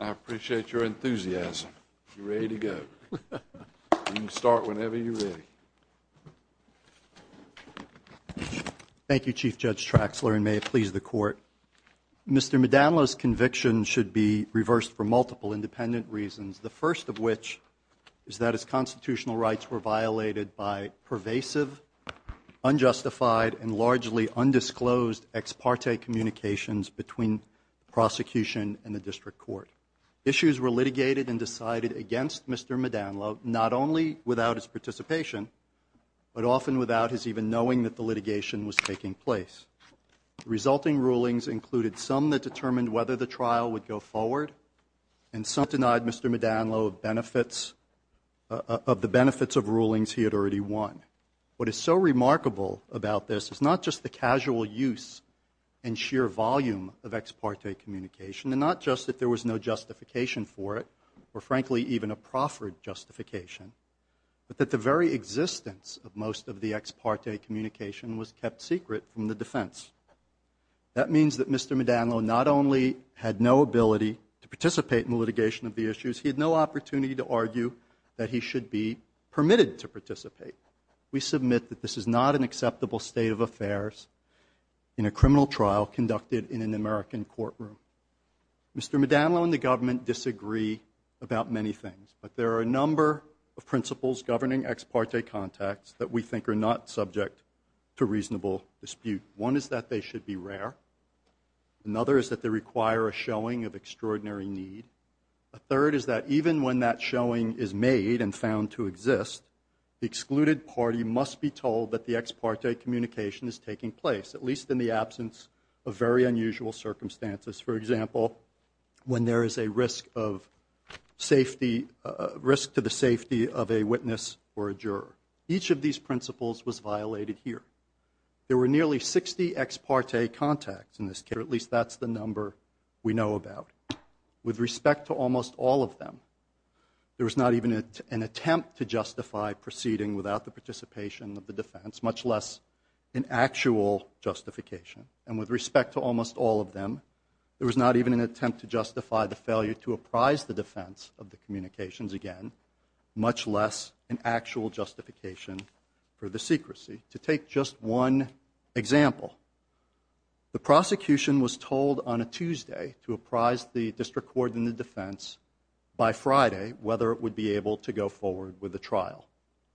I appreciate your enthusiasm. You're ready to go. You can start whenever you're ready. Thank you, Chief Judge Traxler, and may it please the Court. Mr. Modanlo's conviction should be reversed for multiple independent reasons, the first of which is that his constitutional between prosecution and the District Court. Issues were litigated and decided against Mr. Modanlo, not only without his participation, but often without his even knowing that the litigation was taking place. Resulting rulings included some that determined whether the trial would go forward, and some denied Mr. Modanlo of the benefits of rulings he had What is so remarkable about this is not just the casual use and sheer volume of ex parte communication, and not just that there was no justification for it, or frankly even a proffered justification, but that the very existence of most of the ex parte communication was kept secret from the defense. That means that Mr. Modanlo not only had no ability to participate in the litigation of the issues, he had no opportunity to argue that he should be permitted to participate. We submit that this is not an acceptable state of affairs in a criminal trial conducted in an American courtroom. Mr. Modanlo and the government disagree about many things, but there are a number of principles governing ex parte contacts that we think are not subject to reasonable dispute. One is that they should be rare. Another is that they require a showing of extraordinary need. A third is that even when that showing is made and found to exist, the excluded party must be told that the ex parte communication is taking place, at least in the absence of very unusual circumstances. For example, when there is a risk to the safety of a witness or a juror. Each of these principles was violated here. There were nearly 60 ex parte contacts in this case, or at least that's the number we know about. With respect to almost all of them, there was not even an attempt to justify proceeding without the participation of the defense, much less an actual justification. And with respect to almost all of them, there was not even an attempt to justify the failure to apprise the defense of the communications again, much less an actual justification for the secrecy. To take just one example, the prosecution was told on a Tuesday to apprise the district court and the defense by Friday whether it would be able to go forward with the trial.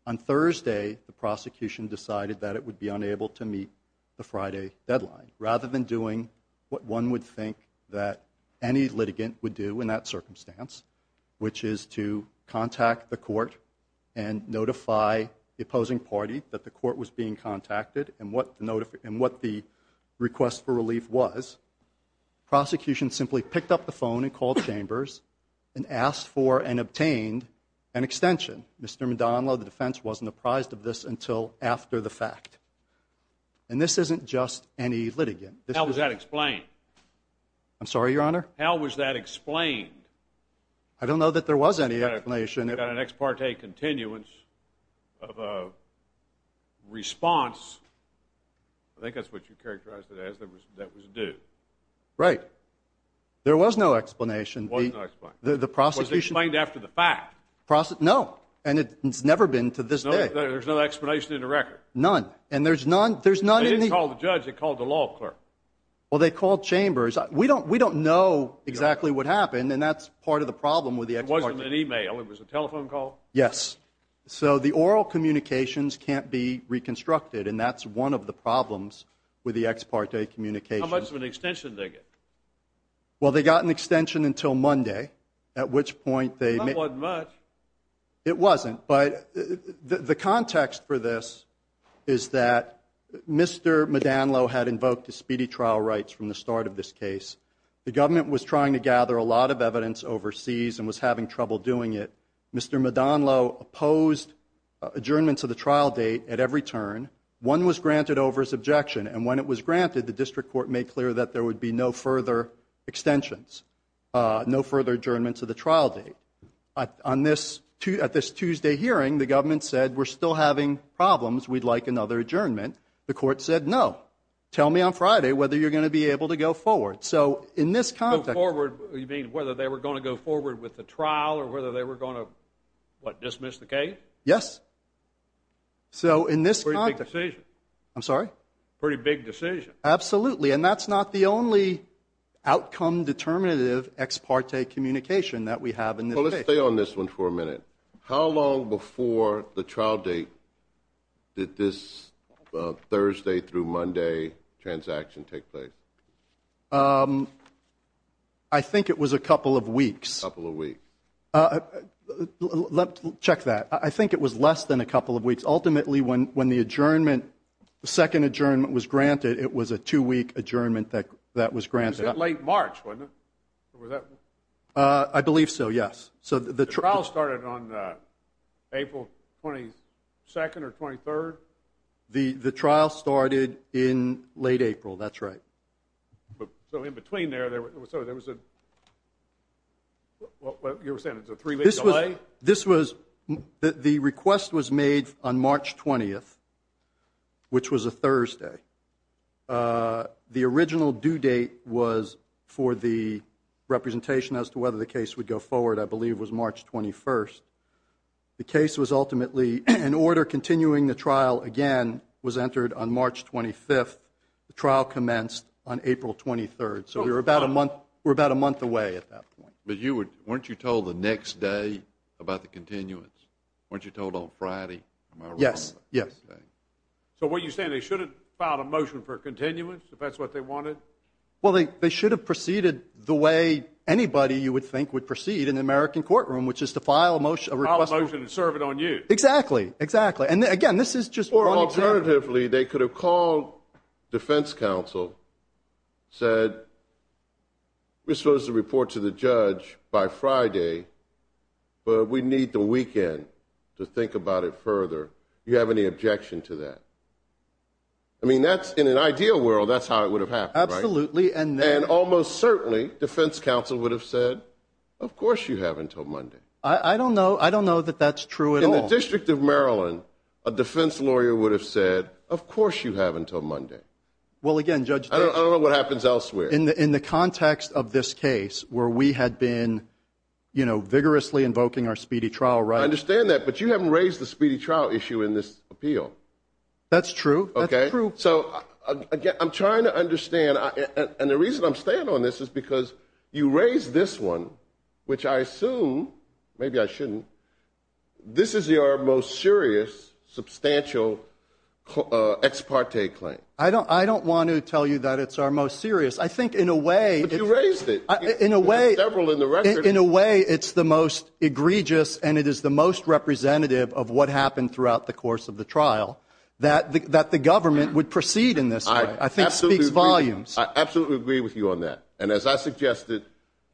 On Thursday, the prosecution decided that it would be unable to meet the Friday deadline, rather than doing what one would think that any litigant would do in that circumstance, which is to contact the court and notify the opposing party that the court was being contacted and what the request for relief was. The prosecution simply picked up the phone and called Chambers and asked for and obtained an extension. Mr. Maldonado, the defense wasn't apprised of this until after the fact. And this isn't just any litigant. How was that explained? I'm sorry, Your Honor? How was that explained? I don't know that there was any explanation. An ex parte continuance of a response, I think that's what you characterized it as, that was due. Right. There was no explanation. Was it explained after the fact? No, and it's never been to this day. There's no explanation in the record? None. And there's none, there's none. They didn't call the judge, they called the law firm. Well, they called Chambers. We don't know exactly what happened and that's part of the problem with the ex parte. It wasn't an email, it was a telephone call? Yes. So the oral communications can't be reconstructed and that's one of the problems with the ex parte communication. How much of an extension did they get? Well, they got an extension until Monday, at which point they... That wasn't much. It wasn't, but the context for this is that Mr. Maldonado had invoked the speedy trial rights from the start of this case. The government was having trouble doing it. Mr. Maldonado opposed adjournment to the trial date at every turn. One was granted over his objection and when it was granted, the district court made clear that there would be no further extensions, no further adjournment to the trial date. At this Tuesday hearing, the government said, we're still having problems, we'd like another adjournment. The court said, no, tell me on Friday whether you're going to be able to go forward. So in this context... They were going to go forward with the trial or whether they were going to, what, dismiss the case? Yes. So in this context... Pretty big decision. I'm sorry? Pretty big decision. Absolutely. And that's not the only outcome determinative ex parte communication that we have in this case. Well, let's stay on this one for a minute. How long before the trial date did this Thursday through Monday transaction take place? I think it was a couple of weeks. A couple of weeks. Check that. I think it was less than a couple of weeks. Ultimately, when the adjournment, second adjournment was granted, it was a two-week adjournment that was granted. Was it late March? I believe so, yes. The trial started on April 22nd or 23rd? The trial started in late April, that's right. So in between there, there was a three-week delay? This was, the request was made on March 20th, which was a Thursday. The original due date was for the representation as to whether the case would leave was March 21st. The case was ultimately in order. Continuing the trial again was entered on March 25th. The trial commenced on April 23rd. So we're about a month away at that point. But weren't you told the next day about the continuance? Weren't you told on Friday? Yes, yes. So what you're saying, they should have filed a motion for continuance if that's what they wanted? Well, they should have proceeded the way anybody you would think would proceed in an American courtroom, which is to file a motion to serve it on you. Exactly, exactly. And again, this is just one example. Alternatively, they could have called defense counsel, said, we're supposed to report to the judge by Friday, but we need the weekend to think about it further. Do you have any objection to that? I mean, that's, in an ideal world, that's how it would have happened, right? And almost certainly, defense counsel would have said, of course you have until Monday. I don't know. I don't know that that's true. In the District of Maryland, a defense lawyer would have said, of course you have until Monday. Well, again, Judge, I don't know what happens elsewhere. In the context of this case where we had been, you know, vigorously invoking our speedy trial, right? I understand that. But you haven't raised the speedy trial issue in this appeal. That's true. Okay. So again, I'm staying on this is because you raised this one, which I assume, maybe I shouldn't, this is your most serious, substantial ex parte claim. I don't want to tell you that it's our most serious. I think in a way, in a way, in a way, it's the most egregious, and it is the most representative of what happened throughout the course of the trial, that the government would proceed in this way. I think speak volumes. I absolutely agree with you on that. And as I suggested,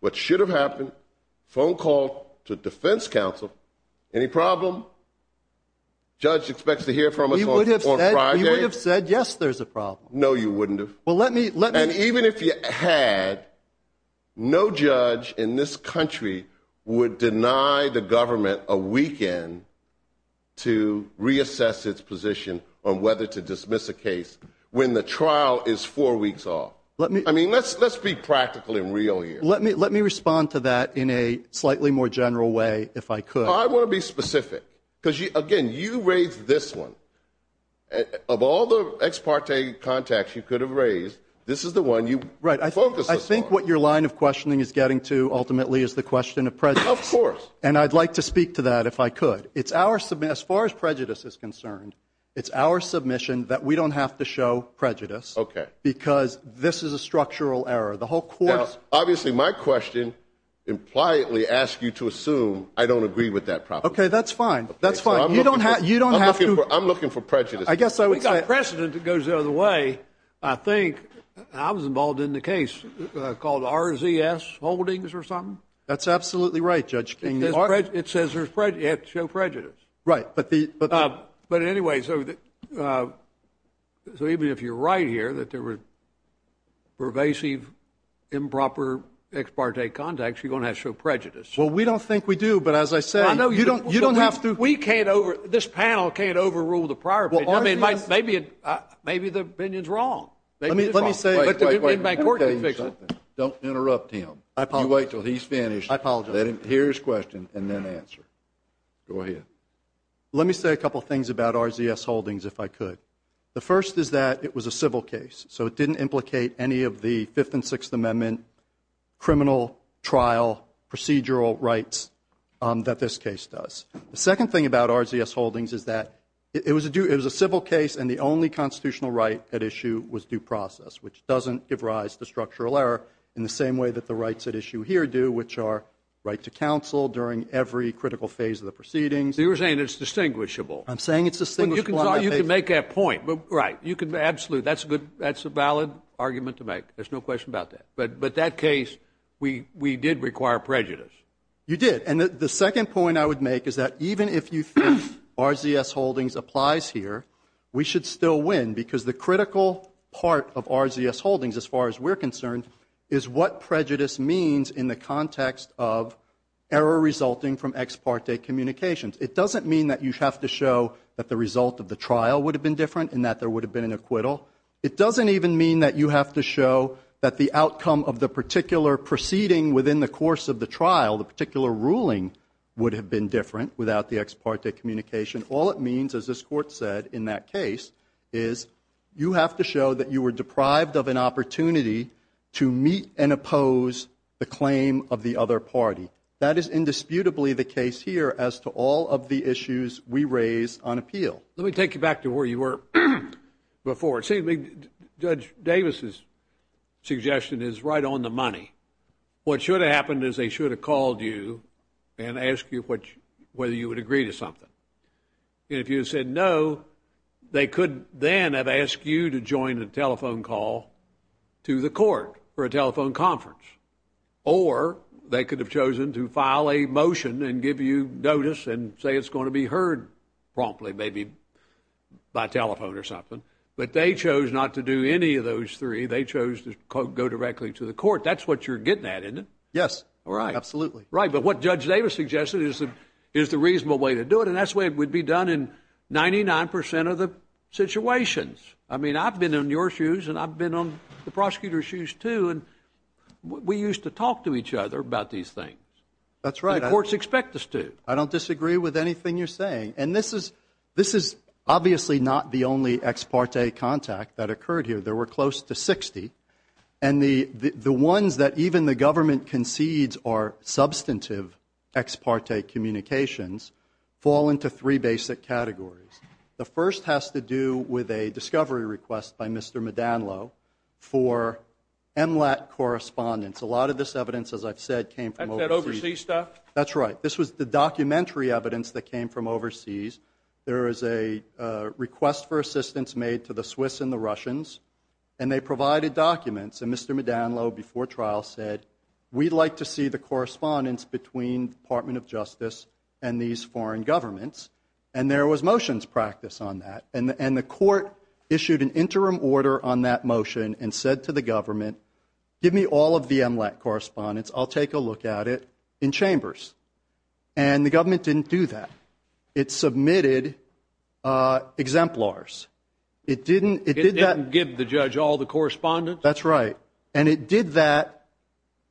what should have happened, phone call to defense counsel, any problem? Judge expects to hear from us on Friday? He would have said, yes, there's a problem. No, you wouldn't have. Well, let me, let me. And even if you had, no I would deny the government a weekend to reassess its position on whether to dismiss a case when the trial is four weeks off. Let me, I mean, let's, let's be practical and real here. Let me, let me respond to that in a slightly more general way, if I could. I want to be specific. Because again, you raised this one. Of all the ex parte contacts you could have raised, this is the one you focus on. Right. I think what your line of questioning is getting to ultimately is the question of presence. Of course. And I'd like to speak to that if I could. It's our, as far as prejudice is concerned, it's our submission that we don't have to show prejudice. Okay. Because this is a structural error. The whole course. Now, obviously my question impliantly asks you to assume I don't agree with that proposition. Okay, that's fine. That's fine. You don't have, you don't have to. I'm looking for, I'm looking for prejudice. I guess I would. We've got a precedent that goes the other way. I think I was involved in the case called RZS Holdings or something? That's absolutely right, Judge King. It says you have to show prejudice. Right. But the, but, but anyway, so, so even if you're right here that there were pervasive improper ex parte contacts, you're going to have to show prejudice. Well, we don't think we do. But as I said, you don't, you don't have to. We can't over, this panel can't overrule the prior. Well, I mean, maybe, maybe the opinion's wrong. Let me say a couple things about RZS Holdings if I could. The first is that it was a civil case. So it didn't implicate any of the 5th and 6th Amendment criminal trial procedural rights that this case does. The second thing about RZS Holdings is that it was a due, it was a civil case and the only constitutional right at issue was due process, which doesn't give rise to structural error in the same way that the rights at issue here do, which are right to counsel during every critical phase of the proceedings. So you're saying it's distinguishable. I'm saying it's distinguishable. You can make that point. Right. You can, absolutely. That's a good, that's a valid argument to make. There's no question about that. But, but that case, we, we did require prejudice. You did. And the second point I would make is that even if you think RZS Holdings applies here, we should still win because the critical part of RZS Holdings, as far as we're concerned, is what prejudice means in the context of error resulting from ex parte communications. It doesn't mean that you have to show that the result of the trial would have been different and that there would have been an acquittal. It doesn't even mean that you have to show that the outcome of the particular proceeding within the course of the trial, the particular ruling would have been different without the ex parte communication. All it means, as this court said in that case, is you have to show that you were deprived of an opportunity to meet and oppose the claim of the other party. That is indisputably the case here as to all of the issues we raise on appeal. Let me take you back to where you were before. See, Judge Davis's suggestion is right on the money. What should have happened is they should have called you and asked you whether you would agree to something. If you said no, they could then have asked you to join a telephone call to the court for a telephone conference. Or they could have chosen to file a motion and give you notice and say it's going to be heard promptly, maybe by telephone or something. But they chose not to do any of those three. They chose to go directly to the court. That's what you're getting at, isn't it? Yes, absolutely. Right, but what Judge Davis suggested is the reasonable way to do it, and that's the way it would be done in 99% of the situations. I mean, I've been in your shoes and I've been on the prosecutor's shoes, too, and we used to talk to each other about these things. That's right. The courts expect us to. I don't disagree with anything you're saying. And this is obviously not the only ex parte contact that occurred here. There were close to 60. And the ones that even the government concedes are substantive ex parte communications fall into three basic categories. The first has to do with a discovery request by Mr. Madanlo for MLAT correspondence. A lot of this evidence, as I've said, came from overseas. That's that overseas stuff? That's right. This was the documentary evidence that came from overseas. There is a request for assistance made to the Swiss and the Russians, and they provided documents. And Mr. Madanlo, before trial, said, we'd like to see the correspondence between Department of Justice and these foreign governments. And there was motions practiced on that. And the court issued an interim order on that motion and said to the government, give me all of the MLAT correspondence. I'll take a look at it in chambers. And the government didn't do that. It submitted exemplars. It didn't give the judge all the correspondence? That's right. And it did that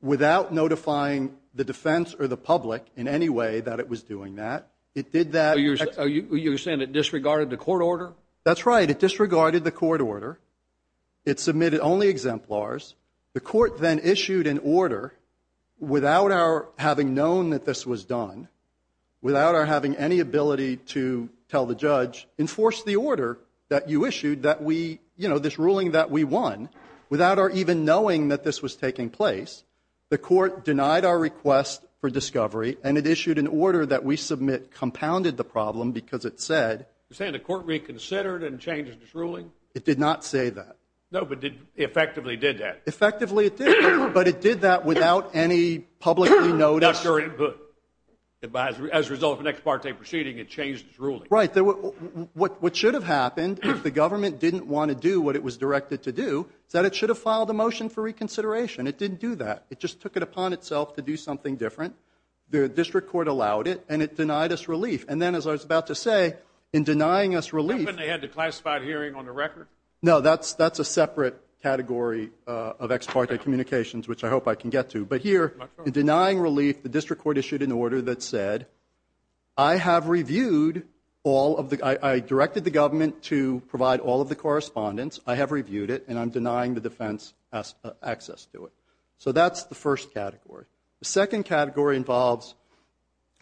without notifying the defense or the public in any way that it was doing that. It did that. You're saying it disregarded the court order? That's right. It disregarded the court order. It submitted only exemplars. The court then issued an order without our having known that this was done, without our having any ability to tell the judge, enforce the order that you issued, this ruling that we won, without our even knowing that this was taking place. The court denied our request for discovery, and it issued an order that we submit compounded the problem because it said— You're saying the court reconsidered and changed its ruling? It did not say that. No, but it effectively did that. Effectively it did. But it did that without any public notice. Without your input. As a result of an ex parte proceeding, it changed its ruling. Right. What should have happened, if the government didn't want to do what it was directed to do, that it should have filed a motion for reconsideration. It didn't do that. It just took it upon itself to do something different. District court allowed it, and it denied us relief. And then, as I was about to say, in denying us relief— Couldn't they have had a classified hearing on the record? No, that's a separate category of ex parte communications, which I hope I can get to. But here, in denying relief, the district court issued an order that said, I have reviewed all of the— I directed the government to provide all of the correspondence. I have reviewed it, and I'm denying the defense access to it. So that's the first category. The second category involves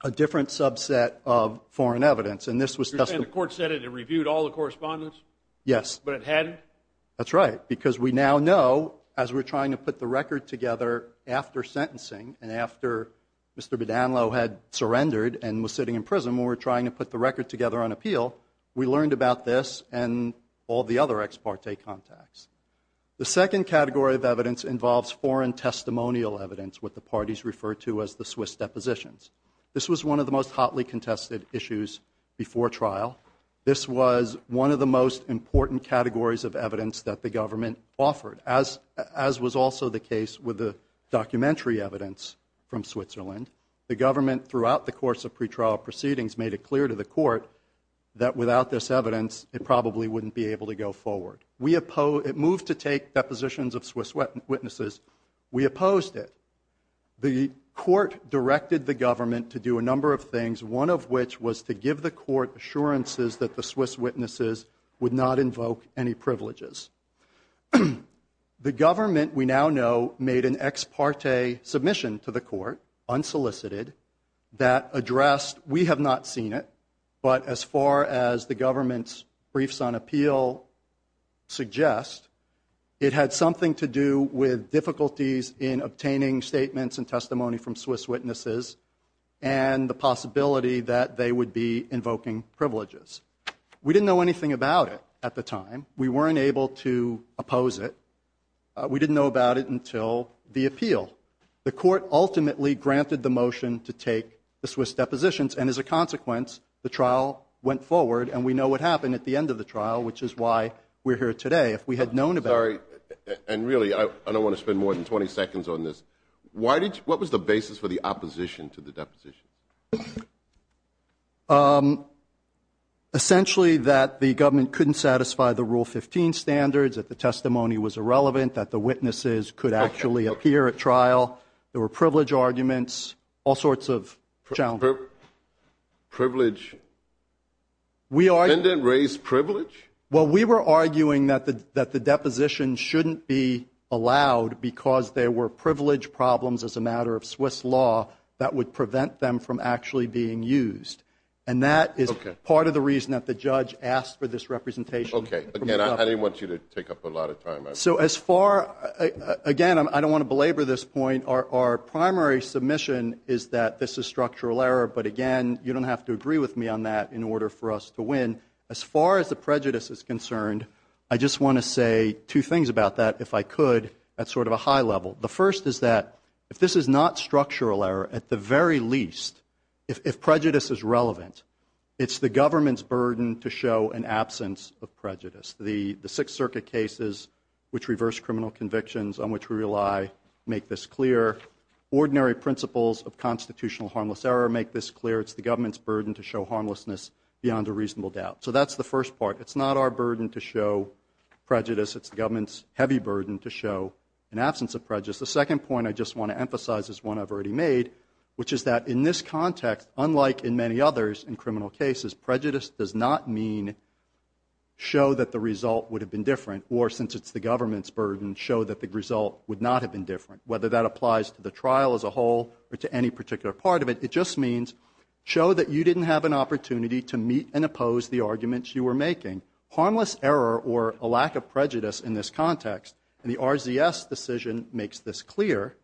a different subset of foreign evidence, and this was— You're saying the court said it had reviewed all the correspondence? Yes. But it hadn't? That's right. Because we now know, as we're trying to put the record together after sentencing, and after Mr. Badanlow had surrendered and was sitting in prison, when we're trying to put the record together on appeal, we learned about this and all the other ex parte contacts. The second category of evidence involves foreign testimonial evidence, what the parties refer to as the Swiss depositions. This was one of the most hotly contested issues before trial. This was one of the most important categories of evidence that the government offered, as was also the case with the documentary evidence from Switzerland. The government, throughout the course of pretrial proceedings, made it clear to the court that without this evidence, it probably wouldn't be able to go forward. It moved to take depositions of Swiss witnesses. We opposed it. The court directed the government to do a number of things, one of which was to give the court assurances that the Swiss witnesses would not invoke any privileges. The government, we now know, made an ex parte submission to the court, unsolicited, that addressed, we have not seen it, but as far as the government's briefs on appeal suggest, it had something to do with difficulties in obtaining statements and testimony from Swiss witnesses, and the possibility that they would be invoking privileges. We didn't know anything about it at the time. We weren't able to oppose it. We didn't know about it until the appeal. The court ultimately granted the motion to take the Swiss depositions, and as a consequence, the trial went forward, and we know what happened at the end of the trial, which is why we're here today. If we had known about it... Sorry, and really, I don't want to spend more than 20 seconds on this. What was the basis for the opposition to the deposition? Essentially, that the government couldn't satisfy the Rule 15 standards, that the testimony was irrelevant, that the witnesses could actually appear at trial. There were privilege arguments, all sorts of challenges. Privilege? Didn't it raise privilege? Well, we were arguing that the deposition shouldn't be allowed because there were privilege problems as a matter of Swiss law that would prevent them from actually being used, and that is part of the reason that the judge asked for this representation. Okay. Again, I didn't want you to take up a lot of time. So as far... Again, I don't want to belabor this point. Our primary submission is that this is structural error, but again, you don't have to agree with me on that in order for us to win. As far as the prejudice is concerned, I just want to say two things about that, if I could. That's sort of a high level. The first is that if this is not structural error, at the very least, if prejudice is relevant, it's the government's burden to show an absence of prejudice. The Sixth Circuit cases which reverse criminal convictions on which we rely make this clear. Ordinary principles of constitutional harmless error make this clear. It's the government's burden to show harmlessness beyond a reasonable doubt. So that's the first part. It's not our burden to show prejudice. It's the government's heavy burden to show an absence of prejudice. The second point I just want to emphasize is one I've already made, which is that in this context, unlike in many others in criminal cases, prejudice does not mean show that the result would have been different or since it's the government's burden, show that the result would not have been different. Whether that applies to the trial as a whole or to any particular part of it, it just means show that you didn't have an opportunity to meet and oppose the arguments you were making. Harmless error or a lack of prejudice in this context, and the RZS decision makes this clear,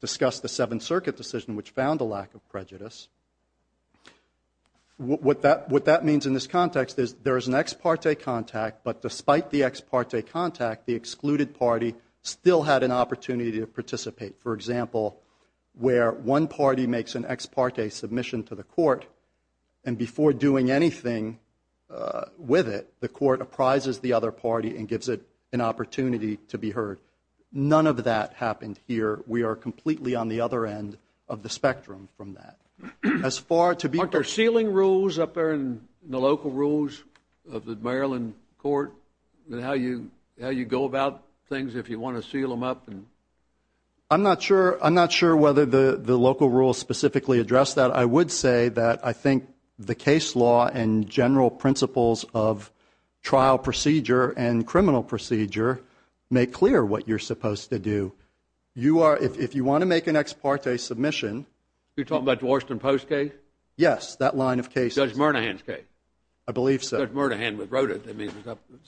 discussed the Seventh Circuit decision which found a lack of prejudice. What that means in this context is there is an ex parte contact, but despite the ex parte contact, the excluded party still had an opportunity to participate. For example, where one party makes an ex parte submission to the court and before doing anything with it, the court apprises the other party and gives it an opportunity to be heard. None of that happened here. We are completely on the other end of the spectrum from that. As far to be... Aren't there sealing rules up there in the local rules of the Maryland court? And how you go about things if you want to seal them up? I'm not sure whether the local rules specifically address that. I would say that I think the case law and general principles of trial procedure and criminal procedure make clear what you're supposed to do. If you want to make an ex parte submission... You're talking about the Washington Post case? Yes, that line of case. Judge Murnahan's case. I believe so. Judge Murnahan wrote it. I mean,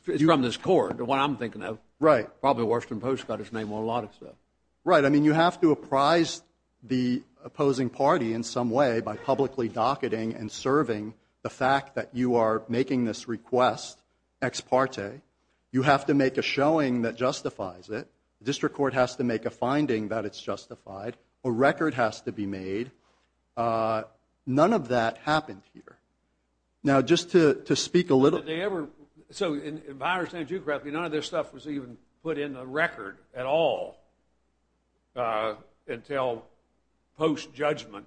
it's from this court, what I'm thinking of. Right. Probably Washington Post got his name on a lot of stuff. Right. I mean, you have to apprise the opposing party in some way by publicly docketing and serving the fact that you are making this request ex parte. You have to make a showing that justifies it. The district court has to make a finding that it's justified. A record has to be made. None of that happened here. Now, just to speak a little... Did they ever... So in my understanding of geography, none of this stuff was even put in the record at all. Until post-judgment,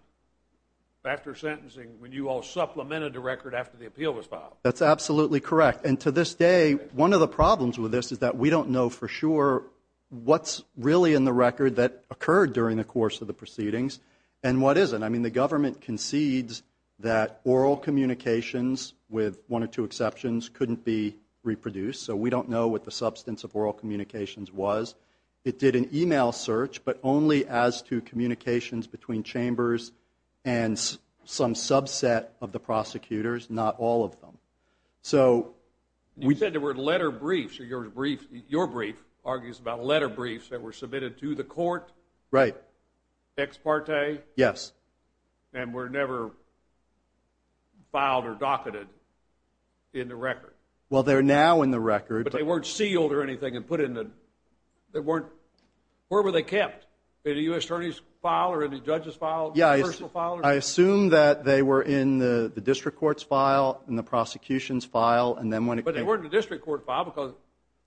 after sentencing, when you all supplemented the record after the appeal was filed. That's absolutely correct. And to this day, one of the problems with this is that we don't know for sure what's really in the record that occurred during the course of the proceedings and what isn't. I mean, the government concedes that oral communications with one or two exceptions couldn't be reproduced. So we don't know what the substance of oral communications was. It did an email search, but only as to communications between chambers and some subset of the prosecutors, not all of them. So we... You said there were letter briefs, your brief argues about letter briefs that were submitted to the court. Right. Ex parte. Yes. And were never filed or docketed in the record. Well, they're now in the record. But they weren't sealed or anything and put in the... They weren't... Where were they kept? In the U.S. Attorney's file or in the judge's file? Yeah, I assume that they were in the district court's file and the prosecution's file. And then when it came... But they weren't in the district court file because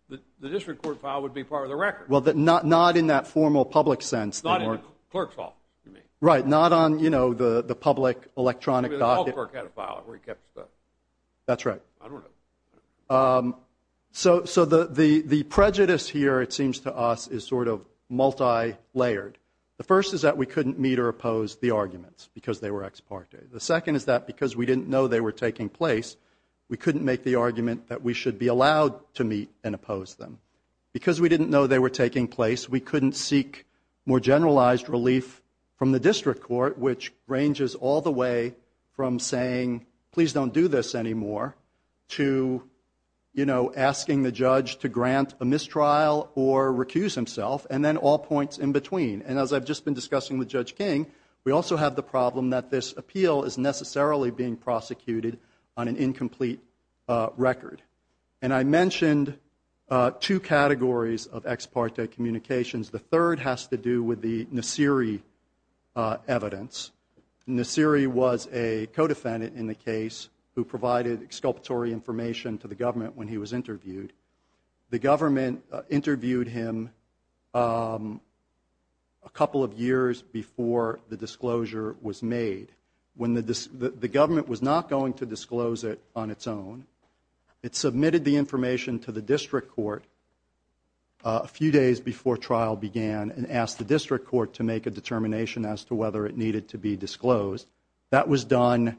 the district court file would be part of the record. Well, not in that formal public sense. Not in the clerk's file, you mean. Right. Not on the public electronic dossier. The public clerk had a file where he kept stuff. That's right. I don't know. So the prejudice here, it seems to us, is sort of multi-layered. The first is that we couldn't meet or oppose the arguments because they were ex parte. The second is that because we didn't know they were taking place, we couldn't make the argument that we should be allowed to meet and oppose them. Because we didn't know they were taking place, we couldn't seek more generalized relief from the district court, which ranges all the way from saying, please don't do this anymore, to asking the judge to grant a mistrial or recuse himself, and then all points in between. And as I've just been discussing with Judge King, we also have the problem that this appeal is necessarily being prosecuted on an incomplete record. And I mentioned two categories of ex parte communications. The third has to do with the Nassiri evidence. Nassiri was a co-defendant in the case who provided exculpatory information to the government when he was interviewed. The government interviewed him a couple of years before the disclosure was made. The government was not going to disclose it on its own. It submitted the information to the district court a few days before trial began and asked the district court to make a determination as to whether it needed to be disclosed. That was done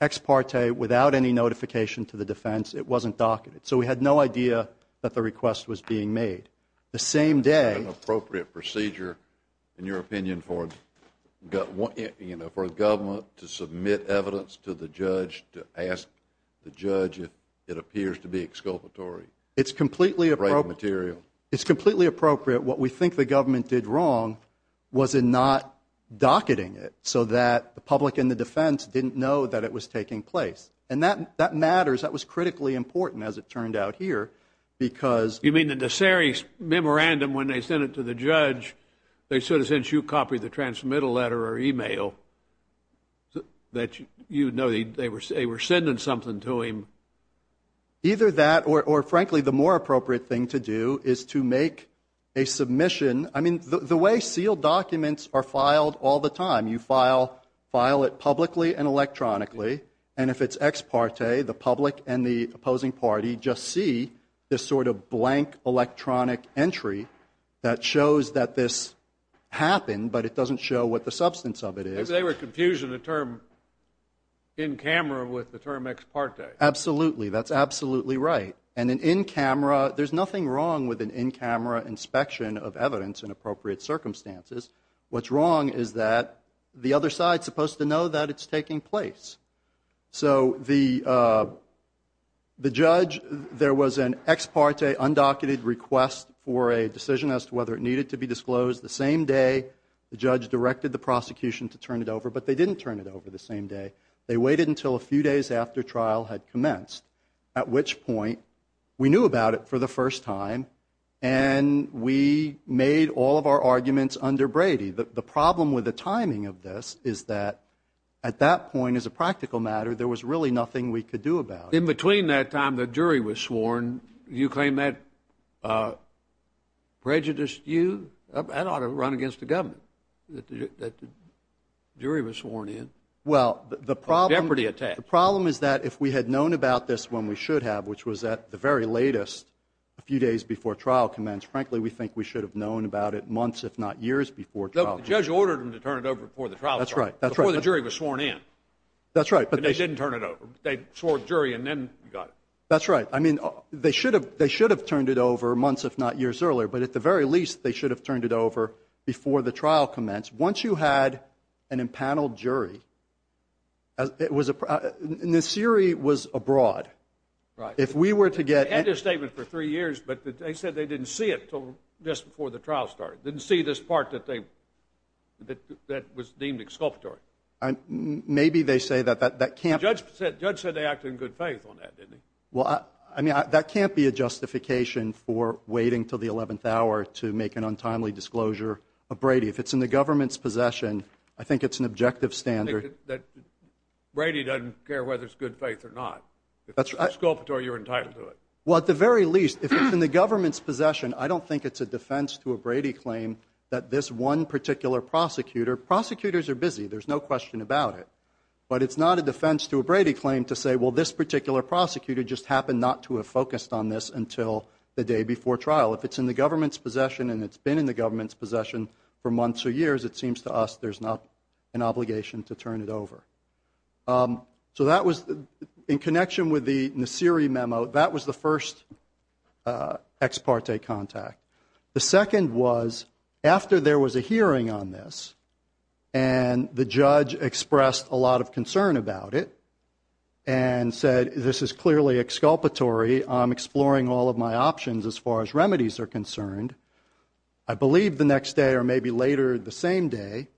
ex parte, without any notification to the defense. It wasn't documented. So we had no idea that the request was being made. The same day- An appropriate procedure, in your opinion, for the government to submit evidence to the judge to ask the judge if it appears to be exculpatory? It's completely appropriate. It's completely appropriate. What we think the government did wrong was in not docketing it so that the public and the defense didn't know that it was taking place. And that matters. That was critically important, as it turned out here, because- You mean the Nassiri memorandum, when they sent it to the judge, they said, as in you copied the transmittal letter or email, that you know they were sending something to him? Either that, or frankly, the more appropriate thing to do is to make a submission. I mean, the way sealed documents are filed all the time, you file it publicly and electronically. And if it's ex parte, the public and the opposing party just see this sort of blank electronic entry that shows that this happened, but it doesn't show what the substance of it is. They were confusing the term in camera with the term ex parte. Absolutely. That's absolutely right. And in camera, there's nothing wrong with an in-camera inspection of evidence in appropriate circumstances. What's wrong is that the other side's supposed to know that it's taking place. So the judge, there was an ex parte undocketed request for a decision as to whether it needed to be disclosed. The same day, the judge directed the prosecution to turn it over. But they didn't turn it over the same day. They waited until a few days after trial had commenced, at which point we knew about it for the first time, and we made all of our arguments under Brady. The problem with the timing of this is that at that point, as a practical matter, there was really nothing we could do about it. In between that time the jury was sworn, you claim that prejudiced you? That ought to run against the government that the jury was sworn in. Well, the problem is that if we had known about this when we should have, which was at the very latest, a few days before trial commenced, frankly, we think we should have known about it months, if not years, before trial. The judge ordered them to turn it over before the trial. That's right. Before the jury was sworn in. That's right. But they didn't turn it over. They swore a jury and then got it. That's right. I mean, they should have turned it over months, if not years earlier. But at the very least, they should have turned it over before the trial commenced. Once you had an impaneled jury, Nasiri was abroad. Right. If we were to get- They had this statement for three years, but they said they didn't see it until just before the trial started. Didn't see this part that was deemed exculpatory. Maybe they say that that can't- The judge said they acted in good faith on that, didn't he? Well, I mean, that can't be a justification for waiting until the 11th hour to make an untimely disclosure of Brady. If it's in the government's possession, I think it's an objective standard. Brady doesn't care whether it's good faith or not. If it's exculpatory, you're entitled to it. Well, at the very least, if it's in the government's possession, I don't think it's a defense to a Brady claim that this one particular prosecutor- Prosecutors are busy. There's no question about it. But it's not a defense to a Brady claim to say, well, this particular prosecutor just happened not to have focused on this until the day before trial. If it's in the government's possession and it's been in the government's possession for months or years, it seems to us there's not an obligation to turn it over. So that was, in connection with the Nasiri memo, that was the first ex parte contact. The second was after there was a hearing on this and the judge expressed a lot of concern about it and said, this is clearly exculpatory. I'm exploring all of my options as far as remedies are concerned. I believe the next day or maybe later the same day,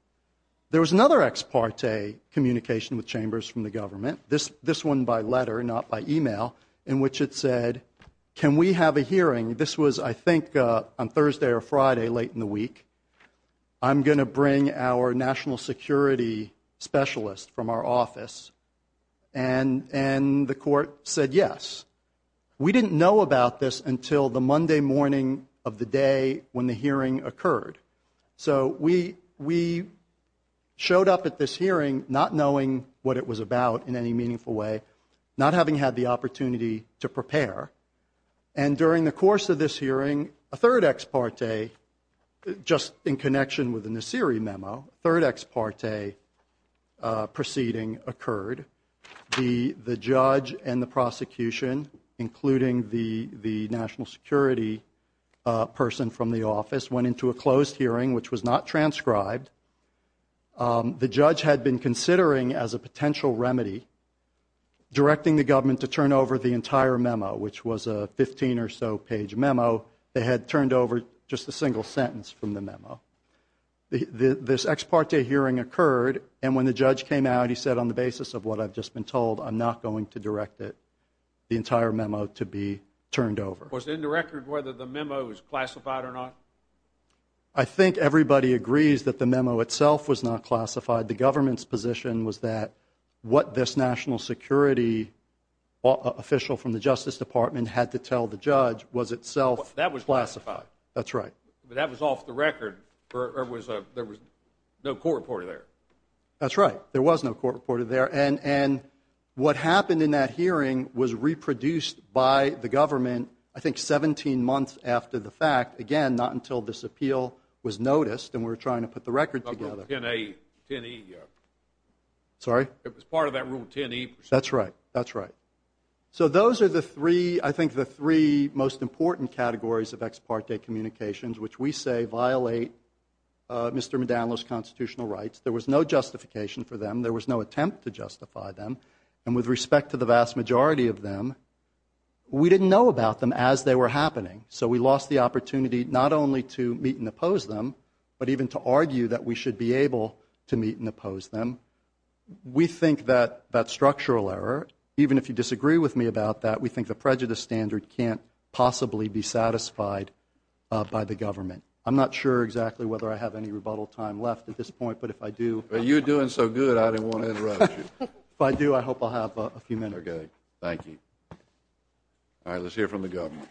there was another ex parte communication with chambers from the government, this one by letter, not by email, in which it said, can we have a hearing? This was, I think, on Thursday or Friday late in the week. I'm going to bring our national security specialist from our office. And the court said, yes. We didn't know about this until the Monday morning of the day when the hearing occurred. So we showed up at this hearing not knowing what it was about in any meaningful way, not having had the opportunity to prepare. And during the course of this hearing, a third ex parte, just in connection with the Nasiri memo, a third ex parte proceeding occurred. The judge and the prosecution, including the national security person from the office, went into a closed hearing, which was not transcribed. The judge had been considering as a potential remedy directing the government to turn over the entire memo, which was a 15 or so page memo. This ex parte hearing occurred. And when the judge came out, he said, on the basis of what I've just been told, I'm not going to direct it, the entire memo to be turned over. Was in the record whether the memo was classified or not? I think everybody agrees that the memo itself was not classified. The government's position was that what this national security official from the Justice Department had to tell the judge was itself. That was classified. That's right. That was off the record. There was no court reported there. That's right. There was no court reported there. And what happened in that hearing was reproduced by the government, I think, 17 months after the fact. Again, not until this appeal was noticed. And we're trying to put the record together. Sorry? It was part of that rule 10E. That's right. That's right. So those are the three, I think, the three most important categories of ex parte communications, which we say violate Mr. McDaniel's constitutional rights. There was no justification for them. There was no attempt to justify them. And with respect to the vast majority of them, we didn't know about them as they were happening. So we lost the opportunity not only to meet and oppose them, but even to argue that we should be able to meet and oppose them. We think that that structural error, even if you disagree with me about that, we think the prejudice standard can't possibly be satisfied by the government. I'm not sure exactly whether I have any rebuttal time left at this point. But if I do... But you're doing so good, I didn't want to interrupt you. If I do, I hope I'll have a few minutes. Okay. Thank you. All right. Let's hear from the government.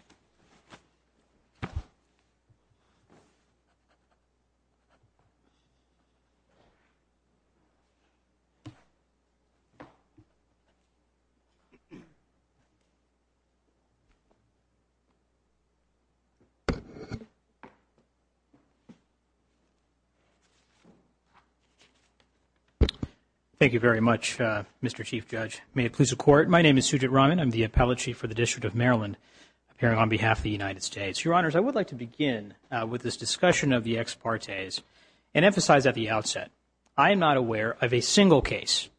Thank you very much, Mr. Chief Judge. May it please the Court. My name is Sujit Raman. I'm the Appellate Chief for the District of Maryland here on behalf of the United States. Your Honors, I would like to begin with this discussion of the ex partes and emphasize at the outset, I am not aware of a single case.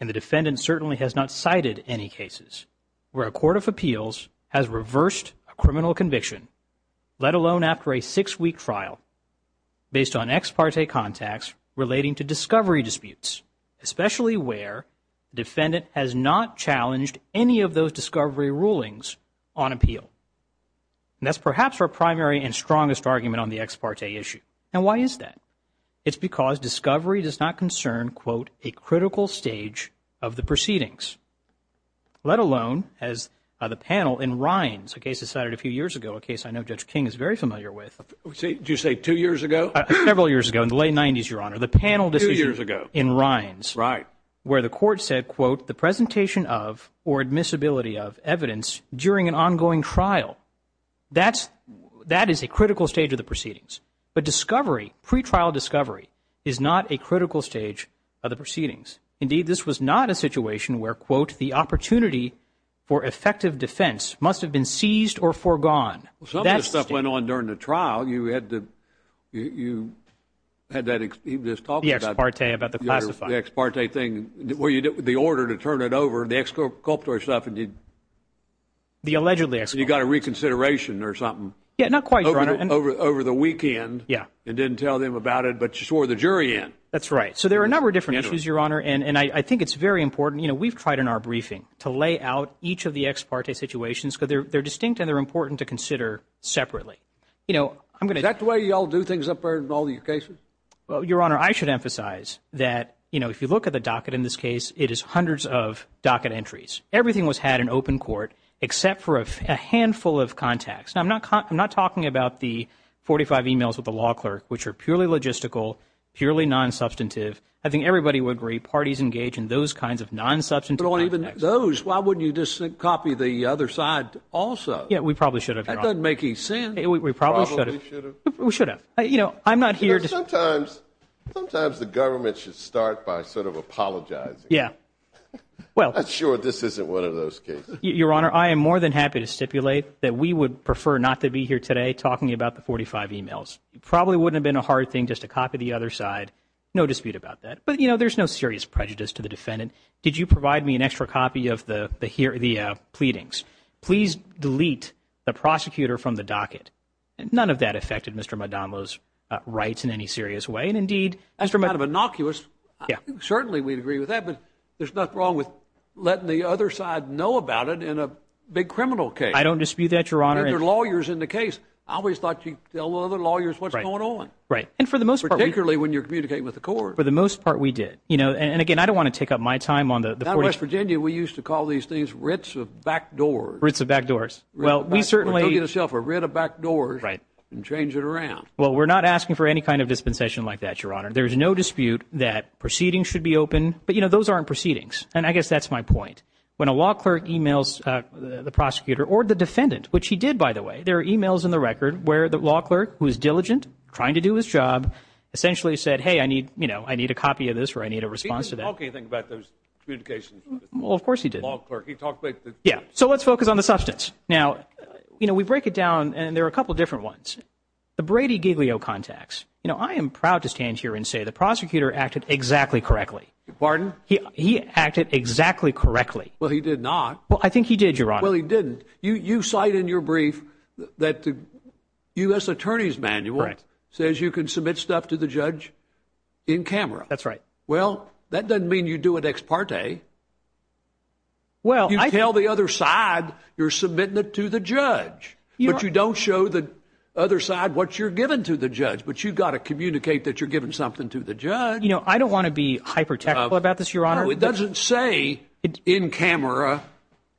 And the defendant certainly has not cited any cases. Where a court of appeals has reversed a criminal conviction, let alone after a six week trial, based on ex parte contacts relating to discovery disputes, especially where defendant has not challenged any of those discovery rulings on appeal. That's perhaps our primary and strongest argument on the ex parte issue. And why is that? It's because discovery does not concern, quote, a critical stage of the proceedings. Let alone, as the panel in Rines, a case decided a few years ago, a case I know Judge King is very familiar with. Did you say two years ago? Several years ago, in the late 90s, Your Honor. The panel decision in Rines. Right. Where the court said, quote, the presentation of, or admissibility of, evidence during an ongoing trial. That is a critical stage of the proceedings. But discovery, pre-trial discovery, is not a critical stage of the proceedings. Indeed, this was not a situation where, quote, the opportunity for effective defense must have been seized or foregone. Some of this stuff went on during the trial. You had the, you had that, he was talking about. The ex parte about the pacifier. The ex parte thing, where you, the order to turn it over, the exculpatory stuff. The allegedly. You got a reconsideration or something. Yeah, not quite, Your Honor. Over the weekend. Yeah. And didn't tell them about it, but you swore the jury in. That's right. There are a number of different issues, Your Honor, and I think it's very important. We've tried in our briefing to lay out each of the ex parte situations, because they're distinct and they're important to consider separately. Is that the way you all do things up there in all your cases? Well, Your Honor, I should emphasize that if you look at the docket in this case, it is hundreds of docket entries. Everything was had in open court, except for a handful of contacts. Now, I'm not talking about the 45 emails with the law clerk, which are purely logistical, purely non-substantive. I think everybody would rate parties engaged in those kinds of non-substantive. Or even those. Why wouldn't you just copy the other side also? Yeah, we probably should have been making sense. We probably should have. You know, I'm not here to sometimes. Sometimes the government should start by sort of apologize. Yeah, well, I'm sure this isn't one of those cases. Your Honor, I am more than happy to stipulate that we would prefer not to be here today talking about the 45 emails. It probably wouldn't have been a hard thing just to copy the other side. No dispute about that. But, you know, there's no serious prejudice to the defendant. Did you provide me an extra copy of the pleadings? Please delete the prosecutor from the docket. None of that affected Mr. Madonlo's rights in any serious way. And indeed, Mr. Madonlo. That's kind of innocuous. Yeah. Certainly, we'd agree with that. But there's nothing wrong with letting the other side know about it in a big criminal case. I don't dispute that, Your Honor. There's lawyers in the case. I always thought you'd tell the other lawyers what's going on. Right. And for the most part. Particularly when you're communicating with the court. For the most part, we did. You know, and again, I don't want to take up my time on the court. Now in West Virginia, we used to call these things writs of back doors. Writs of back doors. Well, we certainly. We took it as a writ of back doors. Right. And changed it around. Well, we're not asking for any kind of dispensation like that, Your Honor. There's no dispute that proceedings should be open. But, you know, those aren't proceedings. And I guess that's my point. When a law clerk emails the prosecutor or the defendant, which he did, by the way, there are emails in the record where the law clerk, who is diligent, trying to do his job, essentially said, hey, I need, you know, I need a copy of this or I need a response to that. He didn't talk anything about those communications. Well, of course he did. Yeah. So let's focus on the substance. Now, you know, we break it down and there are a couple of different ones. The Brady Giglio contacts. You know, I am proud to stand here and say the prosecutor acted exactly correctly. Pardon? He acted exactly correctly. Well, he did not. Well, I think he did, Your Honor. Well, he didn't. You cite in your brief that the U.S. Attorney's Manual says you can submit stuff to the judge in camera. That's right. Well, that doesn't mean you do an ex parte. Well, I... You tell the other side you're submitting it to the judge, but you don't show the other side what you're giving to the judge. But you've got to communicate that you're giving something to the judge. I don't want to be hyper technical about this, Your Honor. It doesn't say in camera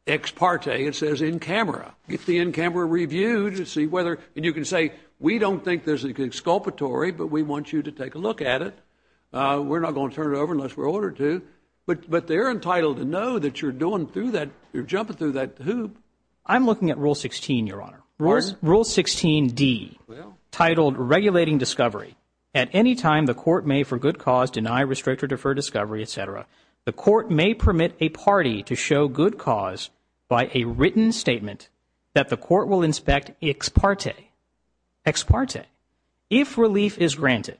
ex parte. It says in camera. It's the in camera review to see whether... And you can say, we don't think there's an exculpatory, but we want you to take a look at it. We're not going to turn it over unless we're ordered to. But they're entitled to know that you're doing through that. You're jumping through that hoop. I'm looking at Rule 16, Your Honor. Rule 16D, titled Regulating Discovery. At any time, the court may, for good cause, deny, restrict, or defer discovery, et cetera. The court may permit a party to show good cause by a written statement that the court will inspect ex parte. Ex parte. If relief is granted,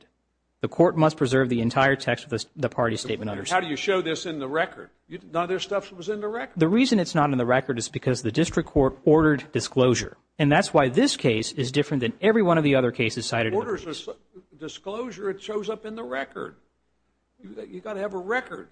the court must preserve the entire text of the party statement. How do you show this in the record? None of this stuff was in the record. The reason it's not in the record is because the district court ordered disclosure. And that's why this case is different than every one of the other cases cited. Disclosure, it shows up in the record. You've got to have a record.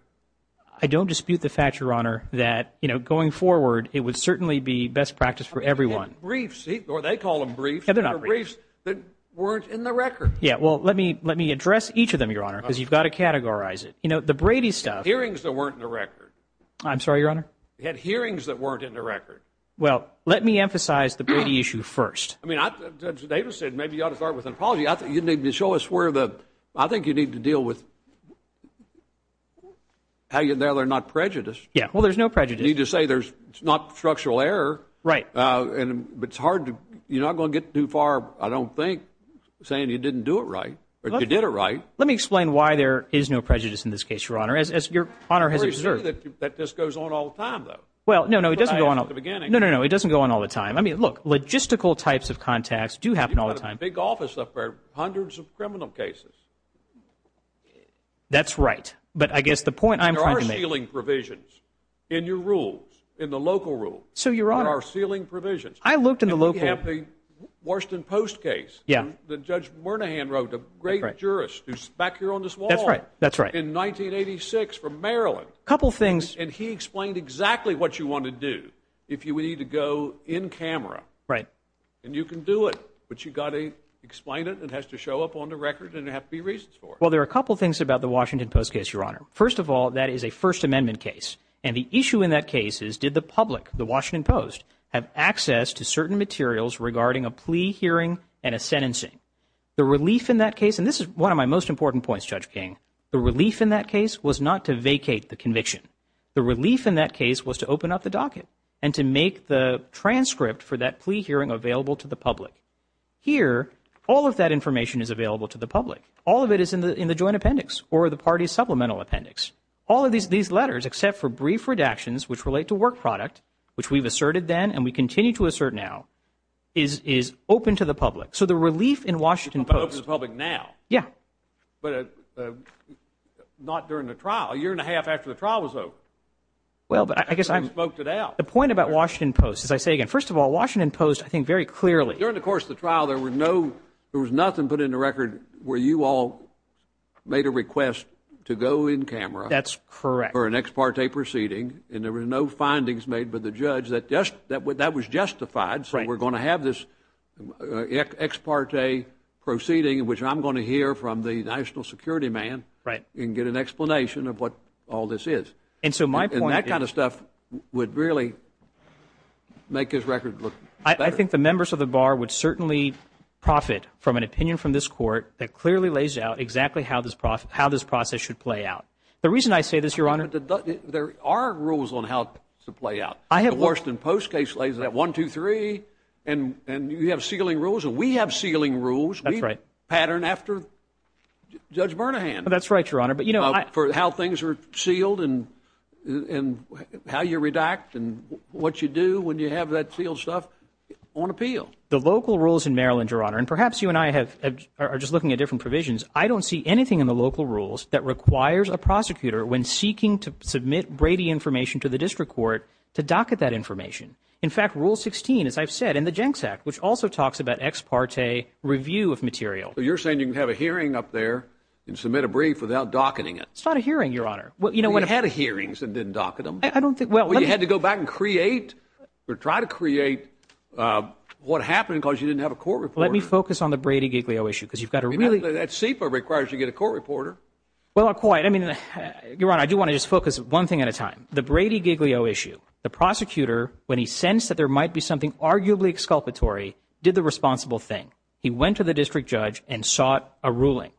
I don't dispute the fact, Your Honor, that going forward, it would certainly be best practice for everyone. You had briefs, or they call them briefs, that weren't in the record. Yeah, well, let me address each of them, Your Honor, because you've got to categorize it. You know, the Brady stuff. Hearings that weren't in the record. I'm sorry, Your Honor? You had hearings that weren't in the record. Well, let me emphasize the Brady issue first. I mean, as David said, maybe you ought to start with an apology. I think you need to show us where the, I think you need to deal with how you know they're not prejudiced. Yeah, well, there's no prejudice. You need to say it's not structural error. Right. And it's hard to, you're not going to get too far, I don't think, saying you didn't do it right, or you did it right. Let me explain why there is no prejudice in this case, Your Honor, as Your Honor has observed. That just goes on all the time, though. Well, no, no, it doesn't go on all the time. I mean, look, logistical types of contacts do happen all the time. You've got a big office up there, hundreds of criminal cases. That's right. But I guess the point I'm trying to make— There are ceiling provisions in your rules, in the local rules. So, Your Honor— There are ceiling provisions. I looked in the local— You have the Washington Post case. Yeah. The Judge Bernahan wrote a great jurist who's back here on this wall. That's right, that's right. In 1986 from Maryland. A couple things— Right. Well, there are a couple things about the Washington Post case, Your Honor. First of all, that is a First Amendment case. And the issue in that case is, did the public, the Washington Post, have access to certain materials regarding a plea hearing and a sentencing? The relief in that case— And this is one of my most important points, Judge King. The relief in that case was not to vacate the conviction. The relief in that case was to open up the docket and to make the transcript for that plea hearing available to the public. Here, all of that information is available to the public. All of it is in the joint appendix or the party's supplemental appendix. All of these letters, except for brief redactions which relate to work product, which we've asserted then and we continue to assert now, is open to the public. So, the relief in Washington Post— Open to the public now. Yeah. But not during the trial. A year and a half after the trial was open. Well, I guess— The point about Washington Post— As I say again, first of all, Washington Post, I think, very clearly— During the course of the trial, there was nothing put in the record where you all made a request to go in camera— That's correct. —for an ex parte proceeding. And there were no findings made by the judge that that was justified. So, we're going to have this ex parte proceeding, which I'm going to hear from the national security man and get an explanation of what all this is. And so, my point— would really make his record look better. I think the members of the bar would certainly profit from an opinion from this court that clearly lays out exactly how this process should play out. The reason I say this, Your Honor— There are rules on how things should play out. I have— The Washington Post case lays out one, two, three, and you have sealing rules. We have sealing rules. That's right. We pattern after Judge Bernahan. That's right, Your Honor. For how things are sealed and how you redact and what you do when you have that sealed stuff on appeal. The local rules in Maryland, Your Honor— and perhaps you and I are just looking at different provisions— I don't see anything in the local rules that requires a prosecutor, when seeking to submit Brady information to the district court, to docket that information. In fact, Rule 16, as I've said, in the GENCS Act, which also talks about ex parte review of material. You're saying you can have a hearing up there and submit a brief without docketing it. It's not a hearing, Your Honor. Well, you know— You had hearings and didn't docket them. I don't think— Well, you had to go back and create or try to create what happened because you didn't have a court reporter. Let me focus on the Brady-Giglio issue because you've got a really— That CFA requires you get a court reporter. Well, quite. I mean, Your Honor, I do want to just focus one thing at a time. The Brady-Giglio issue. The prosecutor, when he sensed that there might be something arguably exculpatory, did the responsible thing. He went to the district judge and sought a ruling.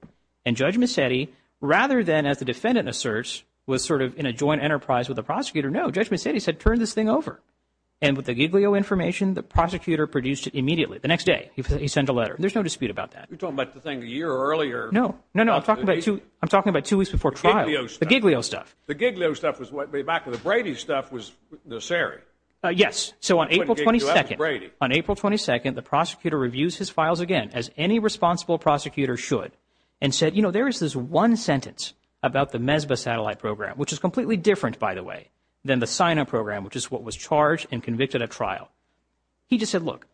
And Judge Mazzetti, rather than, as the defendant asserts, was sort of in a joint enterprise with the prosecutor, no, Judge Mazzetti said, turn this thing over. And with the Giglio information, the prosecutor produced it immediately. The next day, he sent a letter. There's no dispute about that. You're talking about the thing a year earlier. No. No, no. I'm talking about two weeks before trial. The Giglio stuff. The Giglio stuff. The Giglio stuff was way back when. The Brady stuff was this area. Yes. So on April 22nd, the prosecutor reviews his files again, as any responsible prosecutor should. And said, you know, there is this one sentence about the MESBA satellite program, which is completely different, by the way, than the SINA program, which is what was charged and convicted at trial. He just said, look,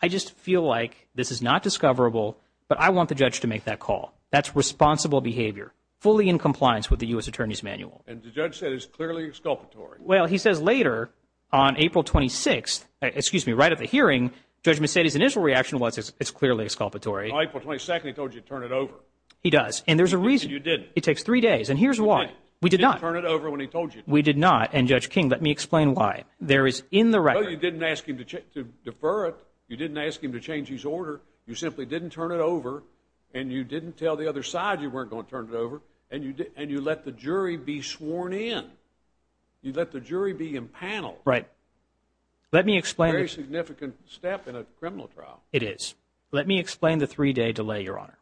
I just feel like this is not discoverable, but I want the judge to make that call. That's responsible behavior, fully in compliance with the U.S. Attorney's Manual. And the judge said it's clearly exculpatory. Well, he says later, on April 26th, excuse me, right at the hearing, Judge Mazzetti's initial reaction was it's clearly exculpatory. On April 22nd, he told you to turn it over. He does. And there's a reason. You didn't. It takes three days. And here's why. We did not. You didn't turn it over when he told you to. We did not. And Judge King, let me explain why. There is in the record. No, you didn't ask him to defer it. You didn't ask him to change his order. You simply didn't turn it over. And you didn't tell the other side you weren't going to turn it over. And you let the jury be sworn in. You let the jury be impaneled. Right. Let me explain. Very significant step in a criminal trial. It is. Let me explain the three-day delay, Your Honor.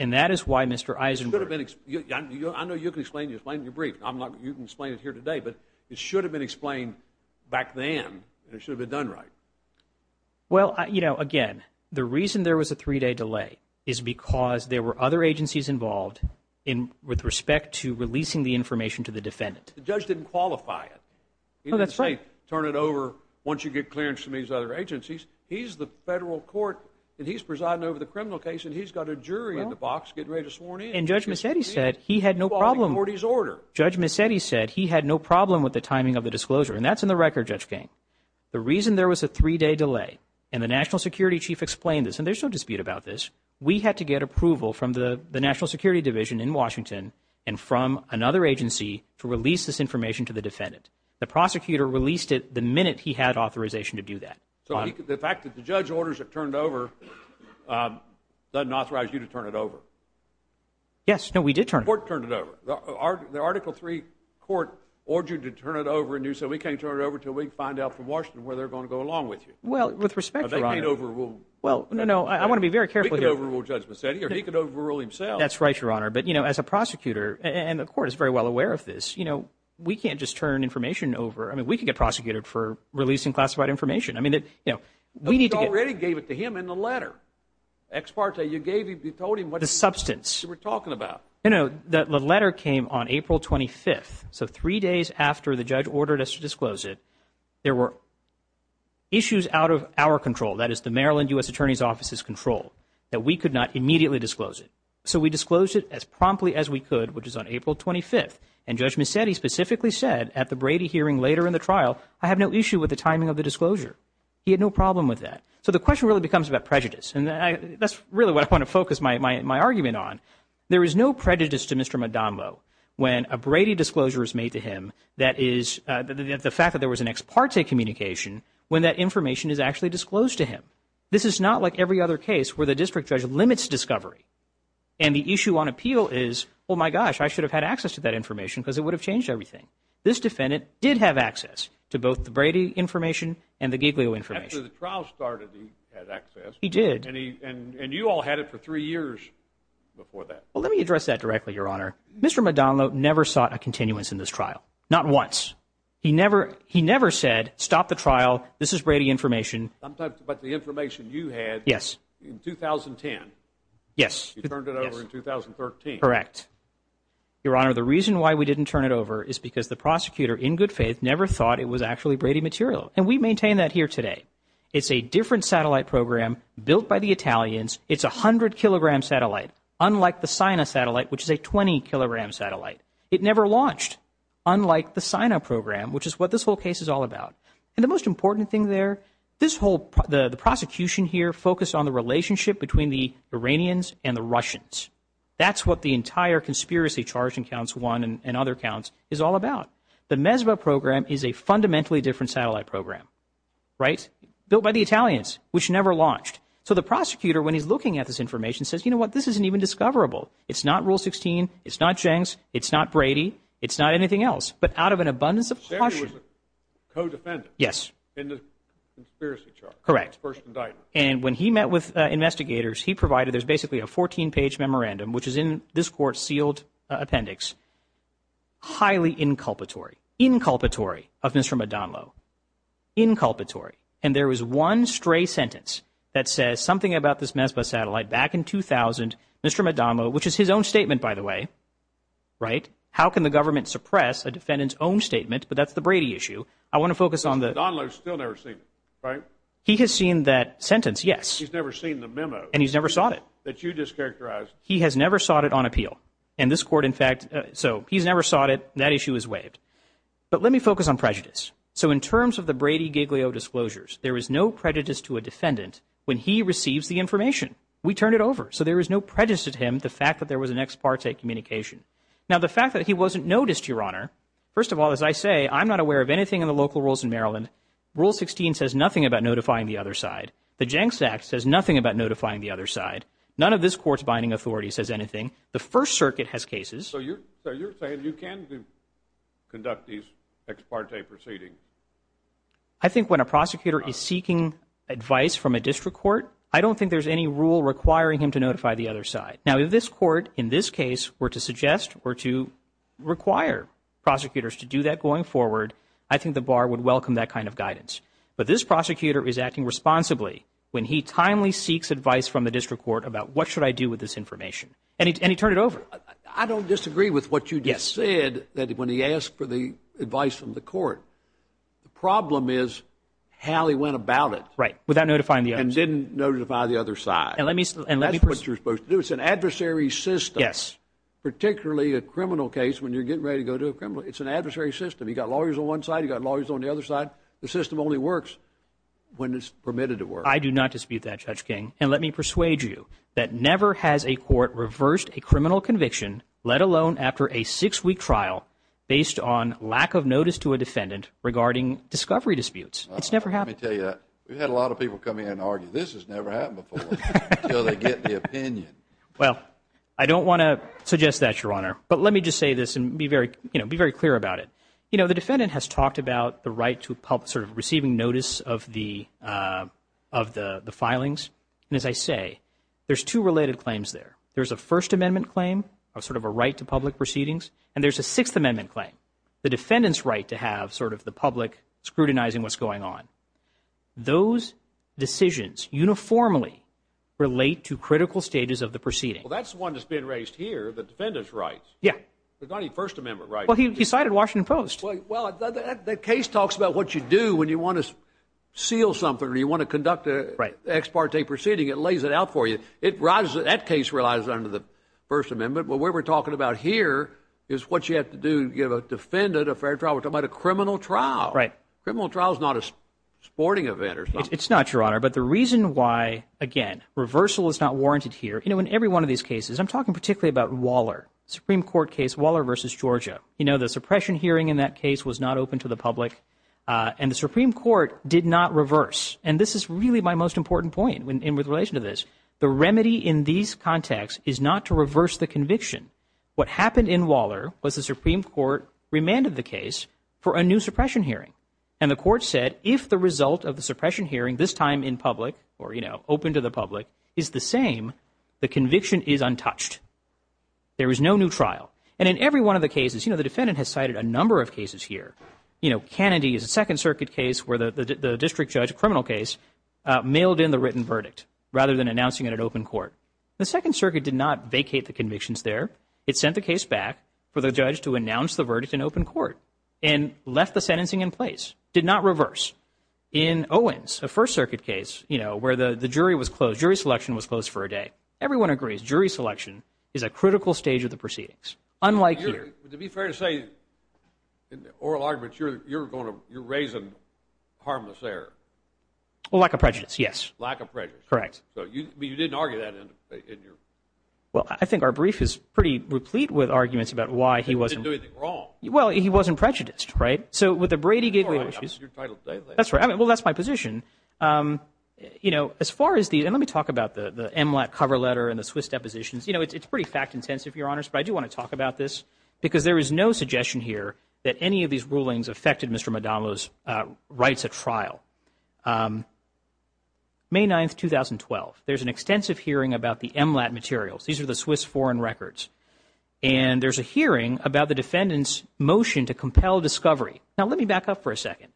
And that is why Mr. Eisenberg. It should have been explained. I know you can explain. You explained your brief. I'm not. You can explain it here today. But it should have been explained back then. It should have been done right. Well, you know, again, the reason there was a three-day delay is because there were other agencies involved with respect to releasing the information to the defendant. The judge didn't qualify it. He didn't say turn it over once you get clearance from these other agencies. He's the federal court. And he's presiding over the criminal case. And he's got a jury in the box getting ready to sworn in. And Judge Mecedes said he had no problem. He's following the court's order. Judge Mecedes said he had no problem with the timing of the disclosure. And that's in the record, Judge King. The reason there was a three-day delay and the national security chief explained this. And there's no dispute about this. We had to get approval from the national security division in Washington and from another agency to release this information to the defendant. The prosecutor released it the minute he had authorization to do that. So the fact that the judge orders it turned over doesn't authorize you to turn it over. Yes, no, we did turn it over. The court turned it over. The Article III court ordered you to turn it over and do so. We can't turn it over until we find out from Washington where they're going to go along with you. Well, with respect, Your Honor. That ain't overruled. Well, no, I want to be very careful here. He can overrule Judge Mecedes or he can overrule himself. That's right, Your Honor. But, you know, as a prosecutor, and the court is very well aware of this, you know, we can't just turn information over. I mean, we can get prosecuted for releasing classified information. We already gave it to him in the letter. Ex parte, you gave him, you told him what you were talking about. You know, the letter came on April 25th. So three days after the judge ordered us to disclose it, there were issues out of our control, that is the Maryland U.S. Attorney's Office's control, that we could not immediately disclose it. So we disclosed it as promptly as we could, which is on April 25th. And Judge Mecedes specifically said at the Brady hearing later in the trial, I have no issue with the timing of the disclosure. He had no problem with that. So the question really becomes about prejudice. And that's really what I want to focus my argument on. There is no prejudice to Mr. Madonlo when a Brady disclosure is made to him, that is, the fact that there was an ex parte communication, when that information is actually disclosed to him. This is not like every other case where the district judge limits discovery. And the issue on appeal is, oh my gosh, I should have had access to that information, because it would have changed everything. This defendant did have access to both the Brady information and the Giglio information. After the trial started, he had access. He did. And you all had it for three years before that. Well, let me address that directly, Your Honor. Mr. Madonlo never sought a continuance in this trial. Not once. He never said, stop the trial. This is Brady information. But the information you had in 2010. Yes. You turned it over in 2013. Correct. Your Honor, the reason why we didn't turn it over is because the prosecutor, in good faith, never thought it was actually Brady material. We maintain that here today. It's a different satellite program built by the Italians. It's a 100-kilogram satellite, unlike the Sina satellite, which is a 20-kilogram satellite. It never launched, unlike the Sina program, which is what this whole case is all about. And the most important thing there, the prosecution here focused on the relationship between the Iranians and the Russians. That's what the entire conspiracy charge in counts one and other counts is all about. The MESVA program is a fundamentally different satellite program. Right? Built by the Italians, which never launched. So the prosecutor, when he's looking at this information, says, you know what? This isn't even discoverable. It's not Rule 16. It's not Jenks. It's not Brady. It's not anything else. But out of an abundance of caution. He was a co-defendant. Yes. In the conspiracy charge. Correct. First indictment. And when he met with investigators, he provided us basically a 14-page memorandum, which is in this court's sealed appendix. Highly inculpatory. Inculpatory of Mr. Madonlo. Inculpatory. And there was one stray sentence that says something about this MESVA satellite back in 2000. Mr. Madonlo, which is his own statement, by the way. Right? How can the government suppress a defendant's own statement? But that's the Brady issue. I want to focus on the- Madonlo's still never seen it, right? He has seen that sentence. Yes. He's never seen the memo. And he's never sought it. That you just characterized. He has never sought it on appeal. And this court, in fact- So he's never sought it. That issue is waived. But let me focus on prejudice. So in terms of the Brady-Giglio disclosures, there is no prejudice to a defendant when he receives the information. We turn it over. So there is no prejudice to him, the fact that there was an ex parte communication. Now, the fact that he wasn't noticed, Your Honor. First of all, as I say, I'm not aware of anything in the local rules in Maryland. Rule 16 says nothing about notifying the other side. The Jenks Act says nothing about notifying the other side. None of this court's binding authority says anything. The First Circuit has cases- So you're saying you can conduct these ex parte proceedings? I think when a prosecutor is seeking advice from a district court, I don't think there's any rule requiring him to notify the other side. Now, if this court, in this case, were to suggest or to require prosecutors to do that going forward, I think the bar would welcome that kind of guidance. But this prosecutor is acting responsibly when he timely seeks advice from the district court about what should I do with this information. And he turned it over. I don't disagree with what you just said, that when he asked for the advice from the court, the problem is how he went about it. Right, without notifying the other side. And didn't notify the other side. And let me- That's what you're supposed to do. It's an adversary system. Yes. Particularly a criminal case, when you're getting ready to go to a criminal, it's an adversary system. You got lawyers on one side, you got lawyers on the other side. The system only works when it's permitted to work. I do not dispute that, Judge King. And let me persuade you, that never has a court reversed a criminal conviction, let alone after a six-week trial, based on lack of notice to a defendant regarding discovery disputes. It's never happened. Let me tell you that. We've had a lot of people come in and argue, this has never happened before. Until they get the opinion. Well, I don't want to suggest that, Your Honor. But let me just say this and be very clear about it. You know, the defendant has talked about the right to receive notice of the filings. And as I say, there's two related claims there. There's a First Amendment claim, a sort of a right to public proceedings. And there's a Sixth Amendment claim, the defendant's right to have sort of the public scrutinizing what's going on. Those decisions uniformly relate to critical stages of the proceeding. Well, that's one that's been raised here, the defendant's rights. Yeah. The very First Amendment rights. Well, he decided Washington Post. Well, the case talks about what you do when you want to seal something or you want to conduct an ex parte proceeding. It lays it out for you. That case relies on the First Amendment. But what we're talking about here is what you have to do to give a defendant a fair trial. We're talking about a criminal trial. Right. Criminal trial is not a sporting event or something. It's not, Your Honor. But the reason why, again, reversal is not warranted here. You know, in every one of these cases, I'm talking particularly about Waller, Supreme Court case, Waller versus Georgia. You know, the suppression hearing in that case was not open to the public. And the Supreme Court did not reverse. And this is really my most important point in relation to this. The remedy in these contexts is not to reverse the conviction. What happened in Waller was the Supreme Court remanded the case for a new suppression hearing. And the court said, if the result of the suppression hearing, this time in public, or, you know, open to the public, is the same, the conviction is untouched. There is no new trial. And in every one of the cases, you know, the defendant has cited a number of cases here. You know, Kennedy is a Second Circuit case where the district judge, a criminal case, mailed in the written verdict rather than announcing it at open court. The Second Circuit did not vacate the convictions there. It sent the case back for the judge to announce the verdict in open court and left the sentencing in place, did not reverse. In Owens, the First Circuit case, you know, where the jury was closed, jury selection was closed for a day. Everyone agrees jury selection is a critical stage of the proceedings, unlike here. To be fair to say, in the oral argument, you're going to, you're raising harmless error. Well, lack of prejudice, yes. Lack of prejudice. Correct. So you didn't argue that in your... Well, I think our brief is pretty replete with arguments about why he wasn't... He didn't do anything wrong. Well, he wasn't prejudiced, right? So with the Brady gateway issues... That's your title statement. That's right. I mean, well, that's my position. You know, as far as the, and let me talk about the MLAT cover letter and the Swiss depositions. You know, it's pretty fact-intensive, Your Honor, but I do want to talk about this because there is no suggestion here that any of these rulings affected Mr. Madonlo's rights at trial. May 9th, 2012, there's an extensive hearing about the MLAT materials. These are the Swiss foreign records. And there's a hearing about the defendant's motion to compel discovery. Now, let me back up for a second.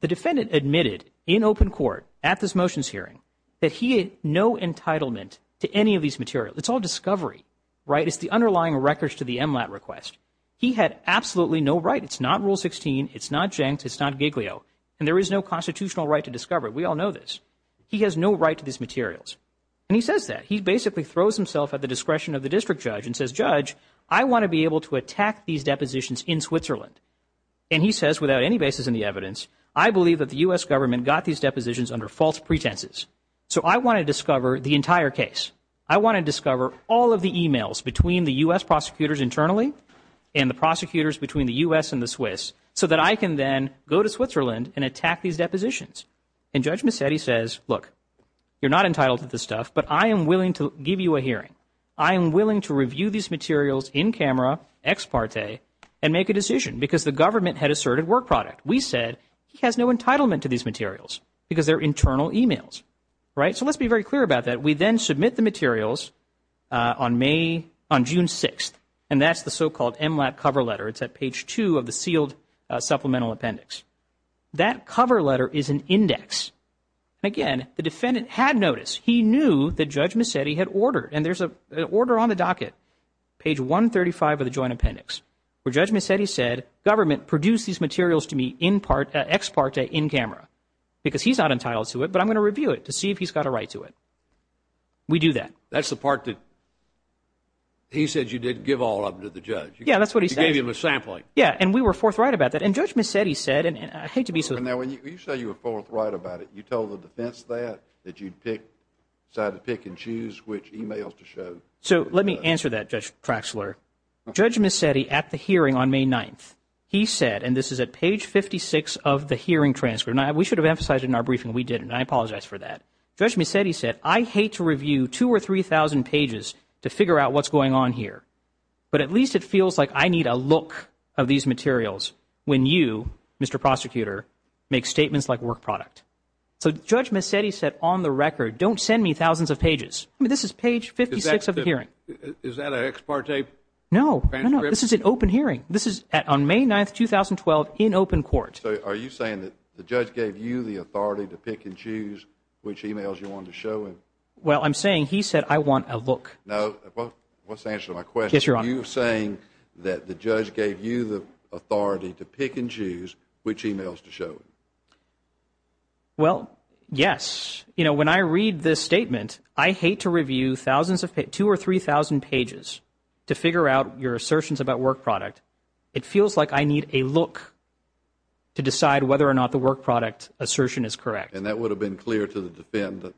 The defendant admitted in open court at this motions hearing that he had no entitlement to any of these materials. It's all discovery, right? It's the underlying records to the MLAT request. He had absolutely no right. It's not Rule 16. It's not Jencks. It's not Giglio. And there is no constitutional right to discover it. We all know this. He has no right to these materials. And he says that. He basically throws himself at the discretion of the district judge and says, Judge, I want to be able to attack these depositions in Switzerland. And he says, without any basis in the evidence, I believe that the U.S. government got these depositions under false pretenses. So I want to discover the entire case. I want to discover all of the emails between the U.S. prosecutors internally and the prosecutors between the U.S. and the Swiss so that I can then go to Switzerland and attack these depositions. And Judge Massetti says, look, you're not entitled to this stuff, but I am willing to give you a hearing. I am willing to review these materials in camera, ex parte, and make a decision because the government had asserted work product. We said he has no entitlement to these materials because they're internal emails, right? So let's be very clear about that. We then submit the materials on May, on June 6th. And that's the so-called MLAT cover letter. It's at page two of the sealed supplemental appendix. That cover letter is an index. Again, the defendant had noticed he knew that Judge Massetti had ordered and there's an order on the docket, page 135 of the joint appendix where Judge Massetti said, government produced these materials to me in part, ex parte, in camera because he's not entitled to it, but I'm going to review it to see if he's got a right to it. We do that. That's the part that he said you didn't give all of them to the judge. Yeah, that's what he said. You gave him a sampling. Yeah, and we were forthright about that. And Judge Massetti said, and I think to be so. Now, when you say you were forthright about it, you told the defense that, that you'd pick, decide to pick and choose which emails to show. So let me answer that, Judge Cratchler. Judge Massetti at the hearing on May 9th, he said, and this is at page 56 of the hearing transfer. We should have emphasized in our briefing we didn't. I apologize for that. Judge Massetti said, I hate to review two or three thousand pages to figure out what's going on here, but at least it feels like I need a look of these materials when you, Mr. Prosecutor, make statements like work product. So Judge Massetti said on the record, don't send me thousands of pages. This is page 56 of the hearing. Is that an ex parte? No, no, this is an open hearing. This is on May 9th, 2012 in open court. Are you saying that the judge gave you the authority to pick and choose which emails you want to show him? Well, I'm saying he said I want a look. No, what's the answer to my question? You're saying that the judge gave you the authority to pick and choose which emails to show. Well, yes, you know, when I read this statement, I hate to review thousands of two or three thousand pages to figure out your assertions about work product. It feels like I need a look to decide whether or not the work product assertion is correct. And that would have been clear to the defendant.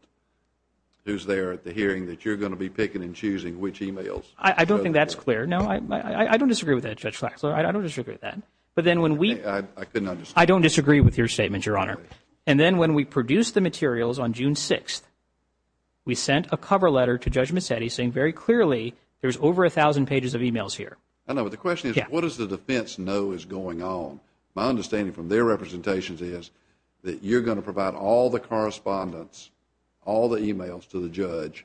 Who's there at the hearing that you're going to be picking and choosing which emails? I don't think that's clear. Now, I don't disagree with that, Judge Faxler. I don't disagree with that. But then when we. I don't disagree with your statement, Your Honor. And then when we produce the materials on June 6th, we sent a cover letter to Judge Mattetti saying very clearly there's over a thousand pages of emails here. I know, but the question is, what does the defense know is going on? My understanding from their representations is that you're going to provide all the correspondence, all the emails to the judge.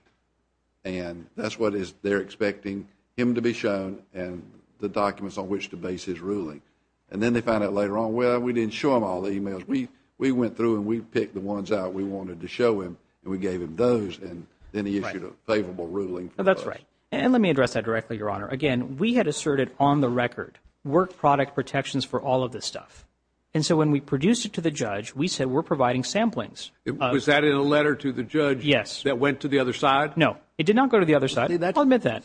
And that's what is they're expecting him to be shown and the documents on which to base his ruling. And then they found out later on, well, we didn't show him all the emails we we went through and we picked the ones out we wanted to show him and we gave him those. And then he issued a favorable ruling. That's right. And let me address that directly, Your Honor. Again, we had asserted on the record work product protections for all of this stuff. And so when we produced it to the judge, we said we're providing samplings. Is that a letter to the judge? Yes. That went to the other side? No, it did not go to the other side. I'll admit that.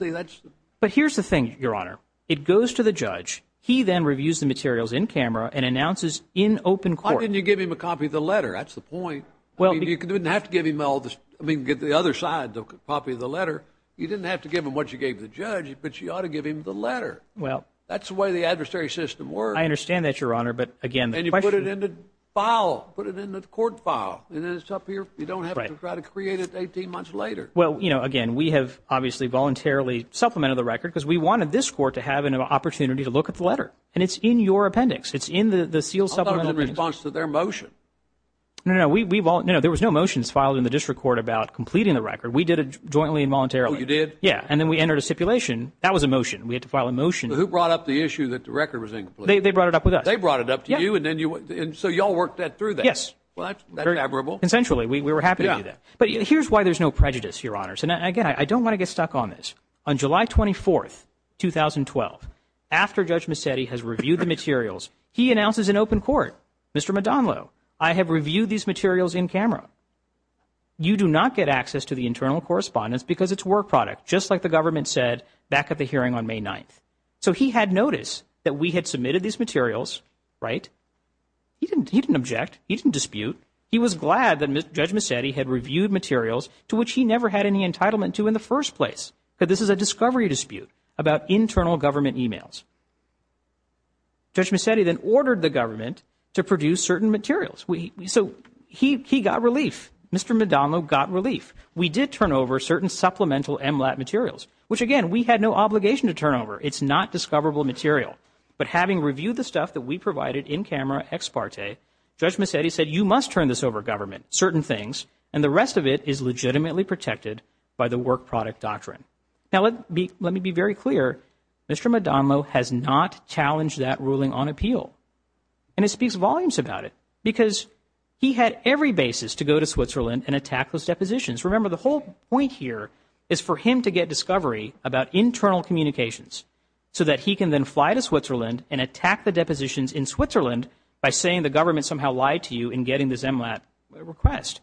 But here's the thing, Your Honor. It goes to the judge. He then reviews the materials in camera and announces in open court. Why didn't you give him a copy of the letter? That's the point. Well, you didn't have to give him all this. I mean, get the other side, the copy of the letter. You didn't have to give him what you gave the judge, but you ought to give him the letter. Well, that's the way the adversary system works. I understand that, Your Honor. But again, you put it in the file, put it in the court file, and then it's up here. You don't have to try to create it 18 months later. Well, you know, again, we have obviously voluntarily supplemented the record because we wanted this court to have an opportunity to look at the letter. And it's in your appendix. It's in the sealed supplement. I thought it was in response to their motion. No, no, no. We've all, you know, there was no motions filed in the district court about completing the record. We did it jointly and voluntarily. You did? Yeah. And then we entered a stipulation. That was a motion. We had to file a motion. Who brought up the issue that the record was incomplete? They brought it up with us. They brought it up to you. And then you, and so y'all worked that through that. Yes. Well, that's admirable. Essentially, we were happy to do that. But here's why there's no prejudice, Your Honors. And again, I don't want to get stuck on this. On July 24th, 2012, after Judge Massetti has reviewed the materials, he announces in open court, Mr. Madonlo, I have reviewed these materials in camera. You do not get access to the internal correspondence because it's work product, just like the government said back at the hearing on May 9th. So he had noticed that we had submitted these materials, right? He didn't object. He didn't dispute. He was glad that Judge Massetti had reviewed materials to which he never had any entitlement to in the first place. But this is a discovery dispute about internal government emails. Judge Massetti then ordered the government to produce certain materials. So he got relief. Mr. Madonlo got relief. We did turn over certain supplemental MLAT materials, which again, we had no obligation to turn over. It's not discoverable material. But having reviewed the stuff that we provided in camera ex parte, Judge Massetti said you must turn this over government certain things and the rest of it is legitimately protected by the work product doctrine. Now, let me be very clear. Mr. Madonlo has not challenged that ruling on appeal. And it speaks volumes about it because he had every basis to go to Switzerland and attack those depositions. Remember, the whole point here is for him to get discovery about internal communications so that he can then fly to Switzerland and attack the depositions in Switzerland by saying the government somehow lied to you in getting this MLAT request.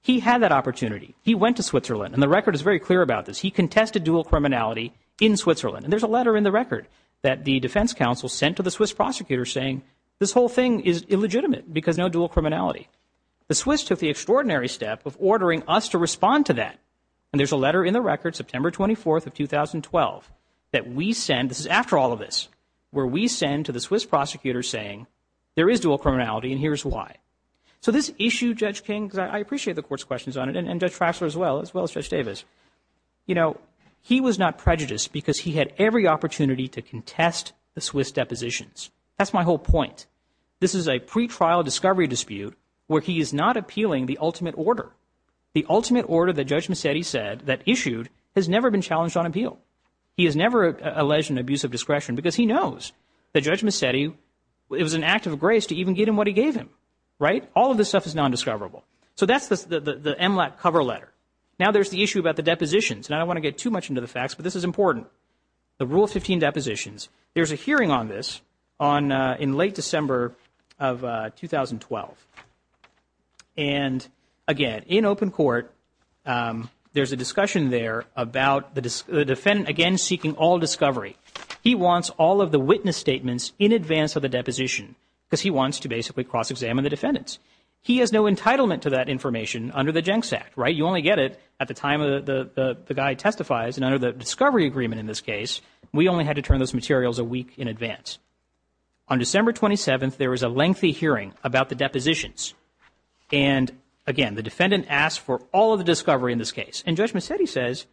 He had that opportunity. He went to Switzerland and the record is very clear about this. He contested dual criminality in Switzerland. And there's a letter in the record that the defense counsel sent to the Swiss prosecutor saying this whole thing is illegitimate because no dual criminality. The Swiss took the extraordinary step of ordering us to respond to that. And there's a letter in the record, September 24th of 2012, that we send. This is after all of this, where we send to the Swiss prosecutor saying there is dual criminality and here's why. So this issue, Judge King, because I appreciate the court's questions on it and Judge Fassler as well, as well as Judge Davis. You know, he was not prejudiced because he had every opportunity to contest the Swiss depositions. That's my whole point. This is a pretrial discovery dispute where he is not appealing the ultimate order. The ultimate order that Judge Massetti said that issued has never been challenged on appeal. He has never alleged an abuse of discretion because he knows that Judge Massetti, it was an act of grace to even give him what he gave him, right? All of this stuff is non-discoverable. So that's the MLAT cover letter. Now there's the issue about the depositions. And I don't want to get too much into the facts, but this is important. The Rule 15 depositions. There's a hearing on this in late December of 2012. And again, in open court, there's a discussion there about the defendant, again, seeking all discovery. He wants all of the witness statements in advance of the deposition because he wants to basically cross-examine the defendants. He has no entitlement to that information under the Jenks Act, right? You only get it at the time of the guy testifies. And under the discovery agreement in this case, we only had to turn those materials a week in advance. On December 27th, there was a lengthy hearing about the depositions. And again, the defendant asked for all of the discovery in this case. And Judge Massetti says,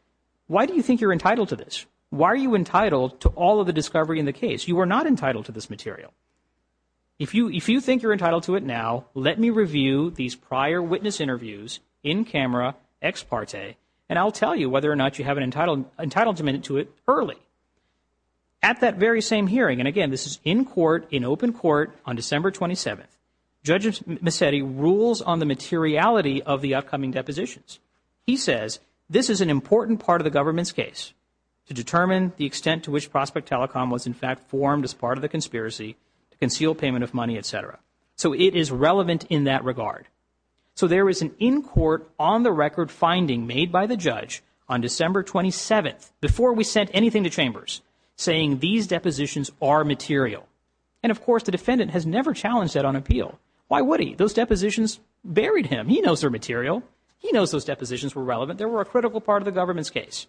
why do you think you're entitled to this? Why are you entitled to all of the discovery in the case? You are not entitled to this material. If you think you're entitled to it now, let me review these prior witness interviews in camera ex parte, and I'll tell you whether or not you have an entitlement to it early. At that very same hearing, and again, this is in court, in open court on December 27th, Judge Massetti rules on the materiality of the upcoming depositions. He says this is an important part of the government's case to determine the extent to which Prospect Telecom was in fact formed as part of the conspiracy to conceal payment of money, etc. So it is relevant in that regard. So there is an in court on the record finding made by the judge on December 27th before we sent anything to chambers saying these depositions are material. And of course, the defendant has never challenged that on appeal. Why would he? Those depositions buried him. He knows they're material. He knows those depositions were relevant. There were a critical part of the government's case.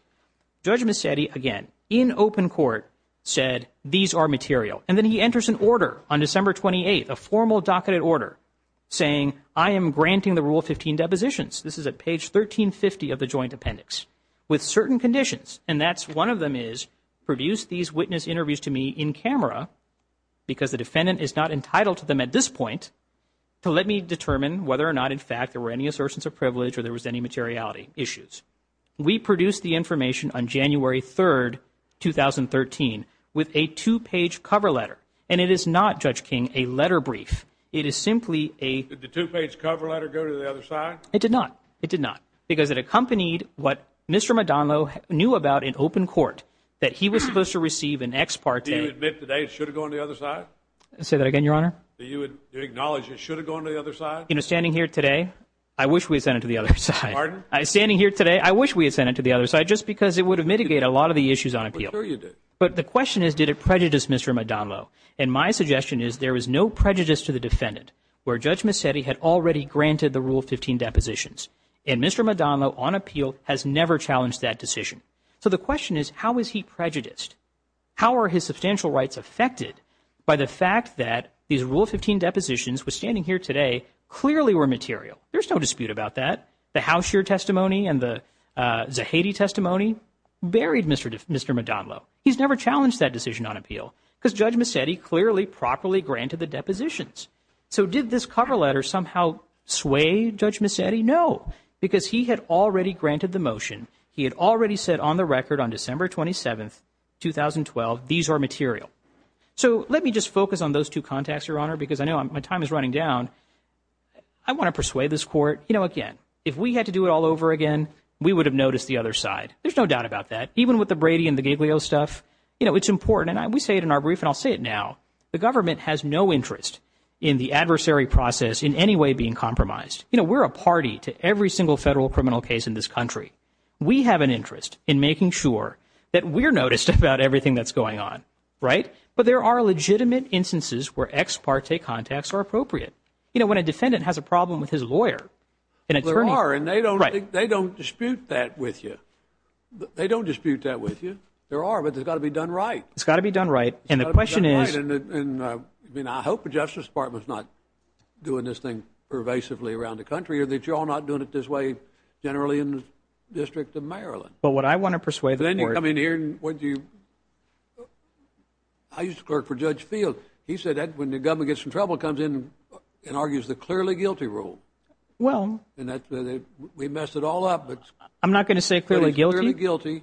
Judge Massetti again in open court said these are material and then he enters an order on December 28th, a formal docketed order saying I am granting the Rule 15 depositions. This is at page 1350 of the Joint Appendix with certain conditions. And that's one of them is produced these witness interviews to me in camera because the defendant is not entitled to them at this point. So let me determine whether or not in fact there were any assertions of privilege or there was any materiality issues. We produced the information on January 3rd, 2013 with a two page cover letter and it is not, Judge King, a letter brief. It is simply a two page cover letter go to the other side. It did not. It did not because it accompanied what Mr. Madonlo knew about in open court that he was supposed to receive an ex parte. Do you admit today it should have gone to the other side? I'll say that again, Your Honor. Do you acknowledge it should have gone to the other side? You know, standing here today, I wish we had done it to the other side. Pardon? Standing here today, I wish we had sent it to the other side just because it would have mitigated a lot of the issues on appeal. But the question is, did it prejudice Mr. Madonlo? And my suggestion is there was no prejudice to the defendant where Judge Massetti had already granted the Rule 15 depositions and Mr. Madonlo on appeal has never challenged that decision. So the question is, how was he prejudiced? How are his substantial rights affected by the fact that these Rule 15 depositions were standing here today clearly were material. There's no dispute about that. The Housher testimony and the Zahedi testimony buried Mr. Madonlo. He's never challenged that decision on appeal because Judge Massetti clearly properly granted the depositions. So did this cover letter somehow sway Judge Massetti? No, because he had already granted the motion. He had already said on the record on December 27th, 2012, these are material. So let me just focus on those two contexts, Your Honor, because I know my time is running down. I want to persuade this court, you know, again, if we had to do it all over again, we would have noticed the other side. There's no doubt about that. Even with the Brady and the Giglio stuff, you know, it's important. And we say it in our brief and I'll say it now. The government has no interest in the adversary process in any way being compromised. You know, we're a party to every single federal criminal case in this country. We have an interest in making sure that we're noticed about everything that's going on, right? But there are legitimate instances where ex parte contacts are appropriate. You know, when a defendant has a problem with his lawyer, there are and they don't they don't dispute that with you. They don't dispute that with you. There are. But there's got to be done right. It's got to be done right. And the question is, and I hope the Justice Department is not doing this thing pervasively around the country or that you're not doing it this way. Generally, in the District of Maryland. But what I want to persuade then you come in here and what do you. I used to work for Judge Field. He said that when the government gets in trouble, comes in and argues the clearly guilty rule. Well, we mess it all up, but I'm not going to say clearly guilty, guilty.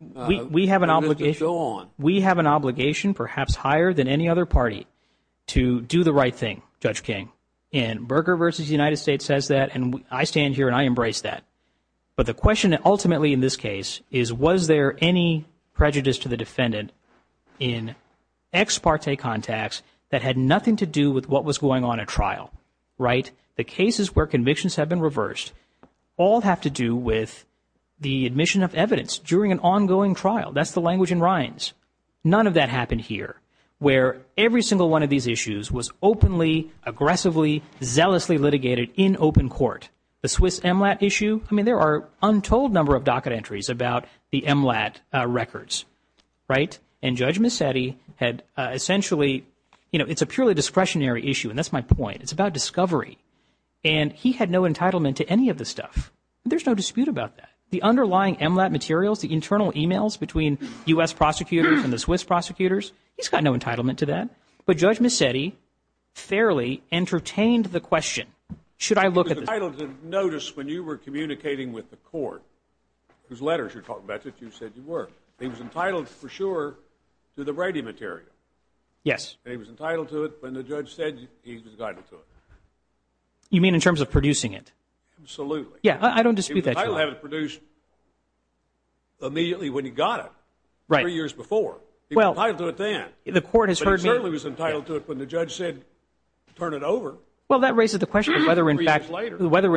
We have an obligation to go on. We have an obligation, perhaps higher than any other party to do the right thing, Judge King and Berger versus United States says that. And I stand here and I embrace that. But the question that ultimately in this case is, was there any prejudice to the defendant in ex parte contacts that had nothing to do with what was going on a trial? Right. The cases where convictions have been reversed all have to do with the admission of evidence during an ongoing trial. That's the language in rhymes. None of that happened here where every single one of these issues was openly, aggressively, zealously litigated in open court. The Swiss MLAT issue. I mean, there are untold number of docket entries about the MLAT records. Right. And Judge Misetti had essentially, you know, it's a purely discretionary issue. And that's my point. It's about discovery. And he had no entitlement to any of this stuff. There's no dispute about that. The underlying MLAT materials, the internal emails between U.S. prosecutors and the Swiss prosecutors, he's got no entitlement to that. But Judge Misetti fairly entertained the question, should I look at the- He was entitled to notice when you were communicating with the court, those letters you're talking about, that you said you weren't. He was entitled for sure to the Brady material. Yes. He was entitled to it when the judge said he was entitled to it. You mean in terms of producing it? Absolutely. Yeah, I don't dispute that. He was entitled to have it produced immediately when he got it. Right. Three years before. He was entitled to it then. The court has heard me- He certainly was entitled to it when the judge said, turn it over. Well, that raises the question whether in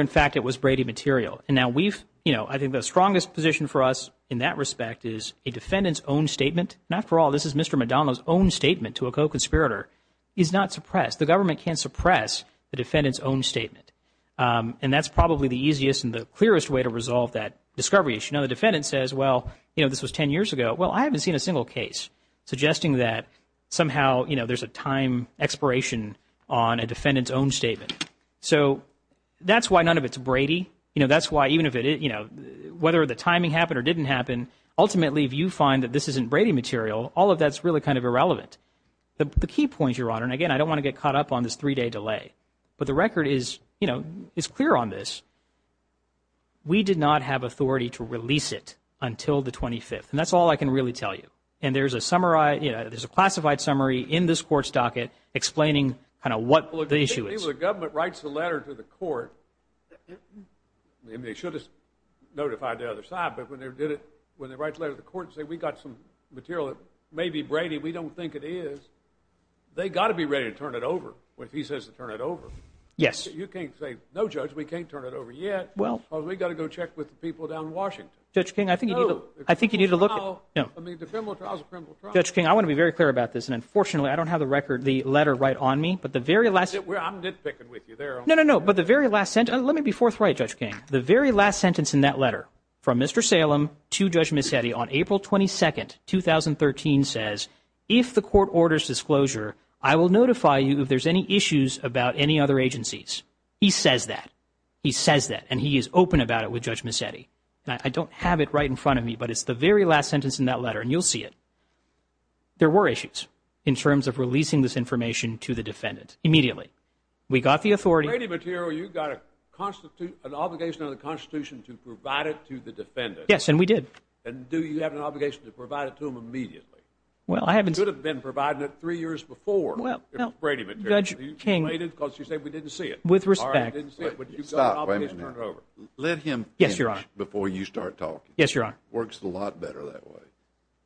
fact it was Brady material. And now we've, you know, I think the strongest position for us in that respect is a defendant's own statement. And after all, this is Mr. Madonna's own statement to a co-conspirator. He's not suppressed. The government can't suppress the defendant's own statement. And that's probably the easiest and the clearest way to resolve that discovery issue. Now, the defendant says, well, you know, this was 10 years ago. Well, I haven't seen a single case suggesting that somehow, you know, there's a time expiration on a defendant's own statement. So that's why none of it's Brady. You know, that's why even if it, you know, whether the timing happened or didn't happen, ultimately, if you find that this isn't Brady material, all of that's really kind of irrelevant. The key point, Your Honor, and again, I don't want to get caught up on this three-day delay, but the record is, you know, it's clear on this. We did not have authority to release it until the 25th, and that's all I can really tell you. And there's a summarized, you know, there's a classified summary in this court's docket explaining kind of what the issue is. If the government writes the letter to the court, and they should have notified the other side, but when they did it, when they write a letter to the court and say we got some material, it may be Brady. We don't think it is. They got to be ready to turn it over when he says to turn it over. Yes. You can't say, no, Judge, we can't turn it over yet. Well, we got to go check with the people down in Washington. Judge King, I think you need to look. Judge King, I want to be very clear about this, and unfortunately, I don't have the record, the letter right on me. But the very last. I'm nitpicking with you there. No, no, no. But the very last sentence, let me be forthright, Judge King. The very last sentence in that letter from Mr. Salem to Judge Mazzetti on April 22nd, 2013, if the court orders disclosure, I will notify you if there's any issues about any other agencies. He says that. He says that. And he is open about it with Judge Mazzetti. I don't have it right in front of me, but it's the very last sentence in that letter, and you'll see it. There were issues in terms of releasing this information to the defendant immediately. We got the authority. Brady material, you got an obligation on the Constitution to provide it to the defendant. Yes, and we did. And do you have an obligation to provide it to him immediately? Well, I haven't. You could have been providing it three years before. Well, Judge King. Because you say we didn't see it. With respect. I didn't see it, but you've got an obligation. Let him finish before you start talking. Yes, Your Honor. Works a lot better that way.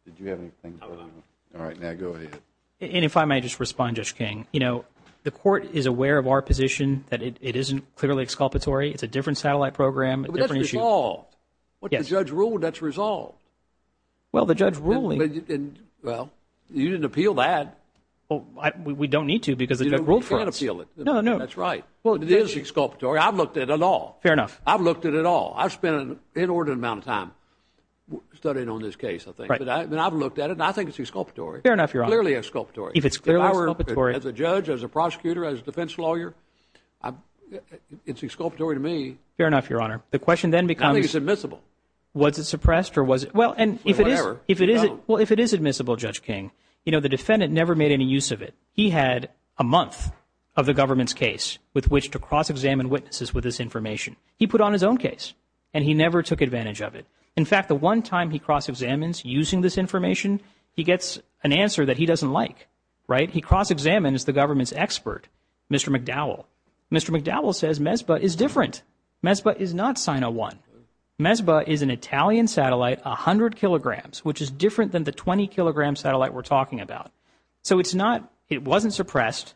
Did you have anything? All right, now go ahead. And if I may just respond, Judge King, you know, the court is aware of our position that it isn't clearly exculpatory. It's a different satellite program. What the judge ruled, that's resolved. Well, the judge ruling. Well, you didn't appeal that. We don't need to because. You know, we can't appeal it. No, no, that's right. Well, it is exculpatory. I've looked at it all. Fair enough. I've looked at it all. I've spent an inordinate amount of time studying on this case, I think. And I've looked at it. I think it's exculpatory. Fair enough, Your Honor. Clearly exculpatory. If it's clearly exculpatory. As a judge, as a prosecutor, as a defense lawyer, it's exculpatory to me. Fair enough, Your Honor. The question then becomes. I think it's admissible. Was it suppressed or was it? Well, and if it is admissible, Judge King, you know, the defendant never made any use of it. He had a month of the government's case with which to cross-examine witnesses with this information. He put on his own case and he never took advantage of it. In fact, the one time he cross-examines using this information, he gets an answer that he doesn't like, right? He cross-examines the government's expert, Mr. McDowell. Mr. McDowell says MESPA is different. MESPA is not SIN-01. MESPA is an Italian satellite, 100 kilograms, which is different than the 20-kilogram satellite we're talking about. So it's not, it wasn't suppressed,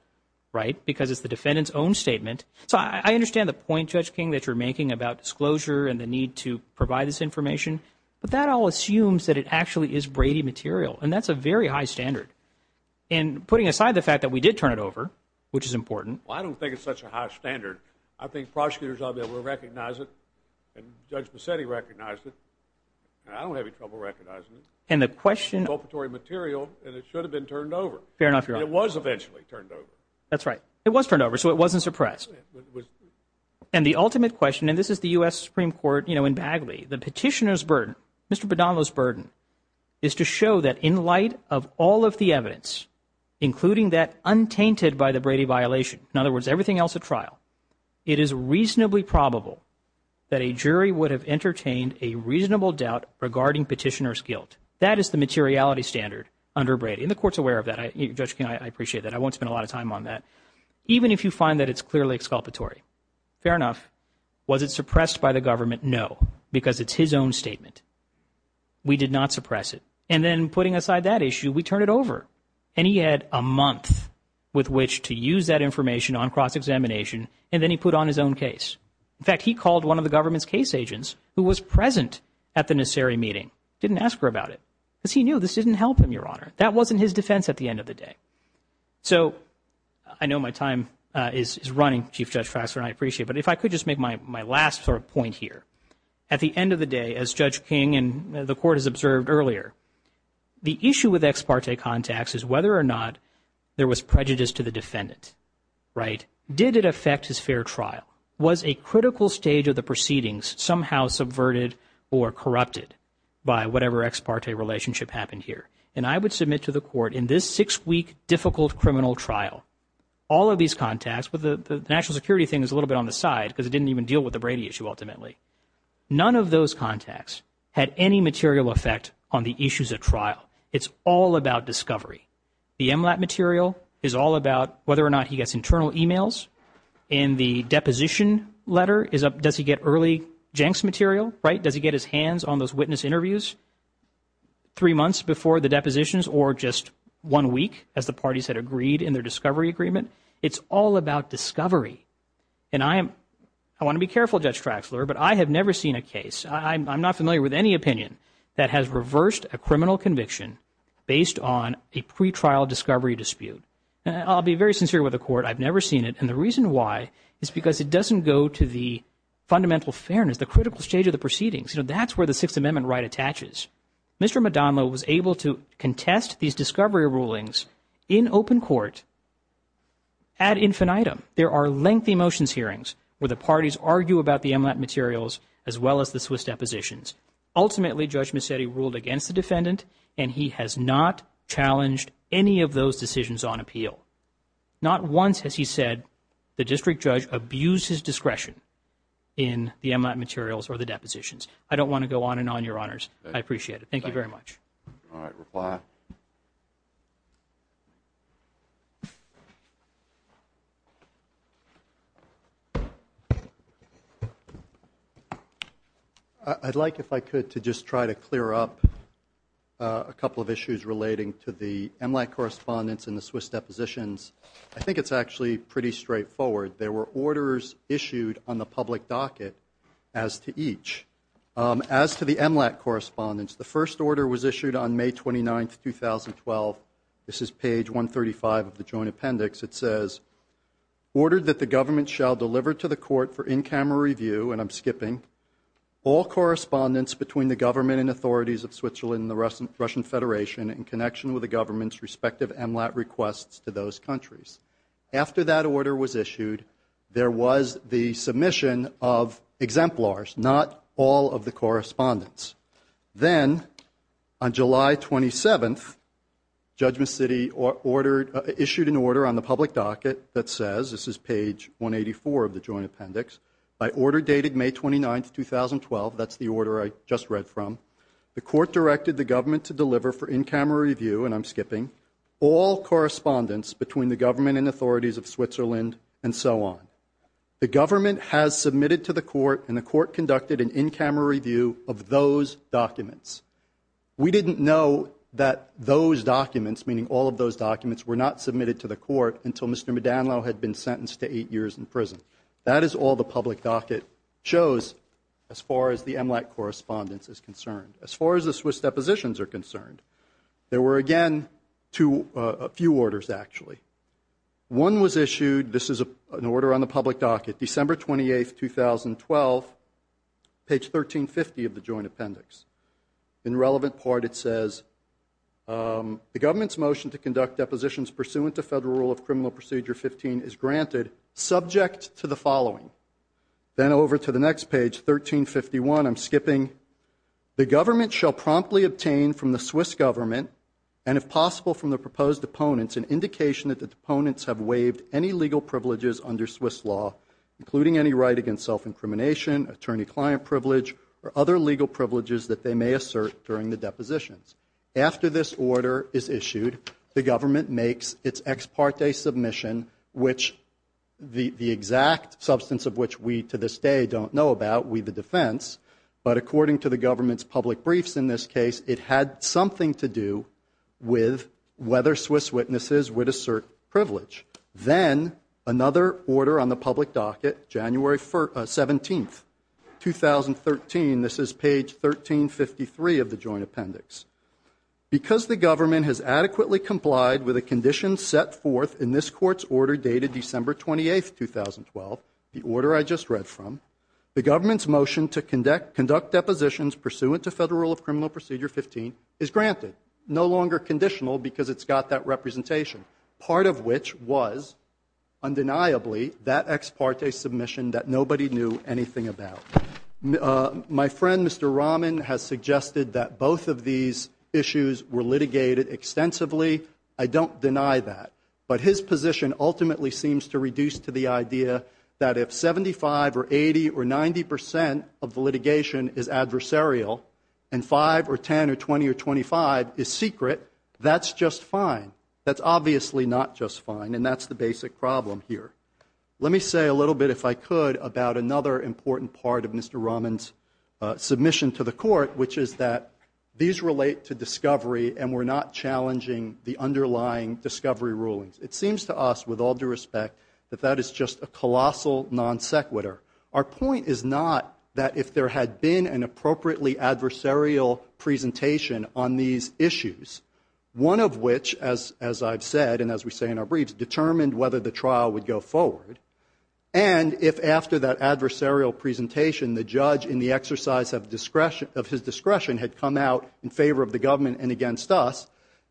right? Because it's the defendant's own statement. So I understand the point, Judge King, that you're making about disclosure and the need to provide this information, but that all assumes that it actually is Brady material. And that's a very high standard. And putting aside the fact that we did turn it over, which is important. I don't think it's such a high standard. I think prosecutors on there will recognize it. And Judge Bassetti recognized it. And I don't have any trouble recognizing it. And the question- It's adulterated material, and it should have been turned over. Fair enough, Your Honor. It was eventually turned over. That's right. It was turned over, so it wasn't suppressed. And the ultimate question, and this is the U.S. Supreme Court, you know, in Bagley, the petitioner's burden, Mr. McDowell's burden, is to show that in light of all of the evidence, including that untainted by the Brady violation, in other words, everything else at trial, it is reasonably probable that a jury would have entertained a reasonable doubt regarding petitioner's guilt. That is the materiality standard under Brady. And the court's aware of that. Judge King, I appreciate that. I won't spend a lot of time on that. Even if you find that it's clearly exculpatory. Fair enough. Was it suppressed by the government? No, because it's his own statement. We did not suppress it. And then putting aside that issue, we turn it over. And he had a month with which to use that information on cross-examination and then he put on his own case. In fact, he called one of the government's case agents who was present at the necessary meeting. Didn't ask her about it. But he knew this didn't help him, Your Honor. That wasn't his defense at the end of the day. So I know my time is running, Chief Judge Fraxner, I appreciate. But if I could just make my last sort of point here. At the end of the day, as Judge King and the court has observed earlier, the issue with ex parte contacts is whether or not there was prejudice to the defendant, right? Did it affect his fair trial? Was a critical stage of the proceedings somehow subverted or corrupted by whatever ex parte relationship happened here? And I would submit to the court in this six week difficult criminal trial, all of these contacts with the national security thing is a little bit on the side because it didn't even deal with the Brady issue ultimately. None of those contacts had any material effect on the issues at trial. It's all about discovery. The MLAP material is all about whether or not he gets internal emails and the deposition letter is up. Does he get early Jenks material, right? Does he get his hands on those witness interviews three months before the depositions or just one week as the parties had agreed in their discovery agreement? It's all about discovery. And I want to be careful, Judge Fraxner, but I have never seen a case. I'm not familiar with any opinion that has reversed a criminal conviction based on a pre-trial discovery dispute. I'll be very sincere with the court. I've never seen it. And the reason why is because it doesn't go to the fundamental fairness, the critical stage of the proceedings. You know, that's where the Sixth Amendment right attaches. Mr. Madama was able to contest these discovery rulings in open court. At Infinitum, there are lengthy motions hearings where the parties argue about the MLAP materials as well as the Swiss depositions. Ultimately, Judge Massetti ruled against the defendant and he has not challenged any of those decisions on appeal. Not once has he said the district judge abused his discretion in the MLAP materials or the depositions. I don't want to go on and on, Your Honors. I appreciate it. Thank you very much. All right. I'd like, if I could, to just try to clear up a couple of issues relating to the MLAP correspondence and the Swiss depositions. I think it's actually pretty straightforward. There were orders issued on the public docket as to each. As to the MLAP correspondence, the first order was issued on May 29th, 2012. This is page 135 of the Joint Appendix. It says, ordered that the government shall deliver to the court for in-camera review, and I'm skipping, all correspondence between the government and authorities of Switzerland and the Russian Federation in connection with the government's MLAP requests to those countries. After that order was issued, there was the submission of exemplars, not all of the correspondence. Then, on July 27th, Judgment City ordered, issued an order on the public docket that says, this is page 184 of the Joint Appendix, I order dated May 29th, 2012. That's the order I just read from. The court directed the government to deliver for in-camera review, and I'm skipping, all correspondence between the government and authorities of Switzerland and so on. The government has submitted to the court, and the court conducted an in-camera review of those documents. We didn't know that those documents, meaning all of those documents, were not submitted to the court until Mr. Madanlo had been sentenced to eight years in prison. That is all the public docket shows as far as the MLAP correspondence is concerned. As far as the Swiss depositions are concerned, there were again two, a few orders actually. One was issued, this is an order on the public docket, December 28th, 2012, page 1350 of the Joint Appendix. In relevant part it says, the government's motion to conduct depositions pursuant to federal rule of criminal procedure 15 is granted, subject to the following. Then over to the next page, 1351, I'm skipping, the government shall promptly obtain from the Swiss government, and if possible, from the proposed opponents, an indication that the opponents have waived any legal privileges under Swiss law, including any right against self-incrimination, attorney-client privilege, or other legal privileges that they may assert during the depositions. After this order is issued, the government makes its ex parte submission, which the exact substance of which we to this day don't know about, we the defense, but according to the government's public briefs in this case, it had something to do with whether Swiss witnesses would assert privilege. Then another order on the public docket, January 17th, 2013, this is page 1353 of the Joint Appendix. Because the government has adequately complied with a condition set forth in this court's order dated December 28th, 2012, the order I just read from, the government's motion to conduct depositions pursuant to federal rule 15 is granted, no longer conditional because it's got that representation. Part of which was, undeniably, that ex parte submission that nobody knew anything about. My friend, Mr. Rahman, has suggested that both of these issues were litigated extensively. I don't deny that, but his position ultimately seems to reduce to the idea that if 75 or 80 or 90 percent of litigation is adversarial and five or 10 or 20 or 25 is secret, that's just fine. That's obviously not just fine and that's the basic problem here. Let me say a little bit, if I could, about another important part of Mr. Rahman's submission to the court, which is that these relate to discovery and we're not challenging the underlying discovery rulings. It seems to us, with all due respect, that that is just a colossal non sequitur. Our point is not that if there had been an appropriately adversarial presentation on these issues, one of which, as I've said and as we say in our briefs, determined whether the trial would go forward and if after that adversarial presentation, the judge in the exercise of his discretion had come out in favor of the government and against us,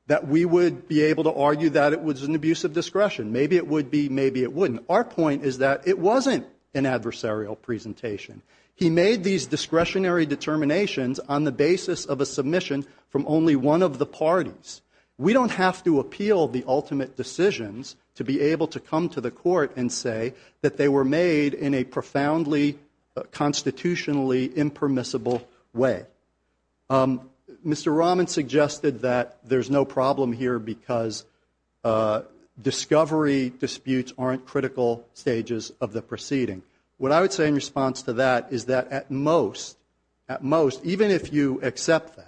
that we would be able to argue that it was an abuse of discretion. Maybe it would be, maybe it wouldn't. Our point is that it wasn't an adversarial presentation. He made these discretionary determinations on the basis of a submission from only one of the parties. We don't have to appeal the ultimate decisions to be able to come to the court and say that they were made in a profoundly constitutionally impermissible way. Mr. Rahman suggested that there's no problem here because discovery disputes aren't critical stages of the proceeding. What I would say is that at most, even if you accept that,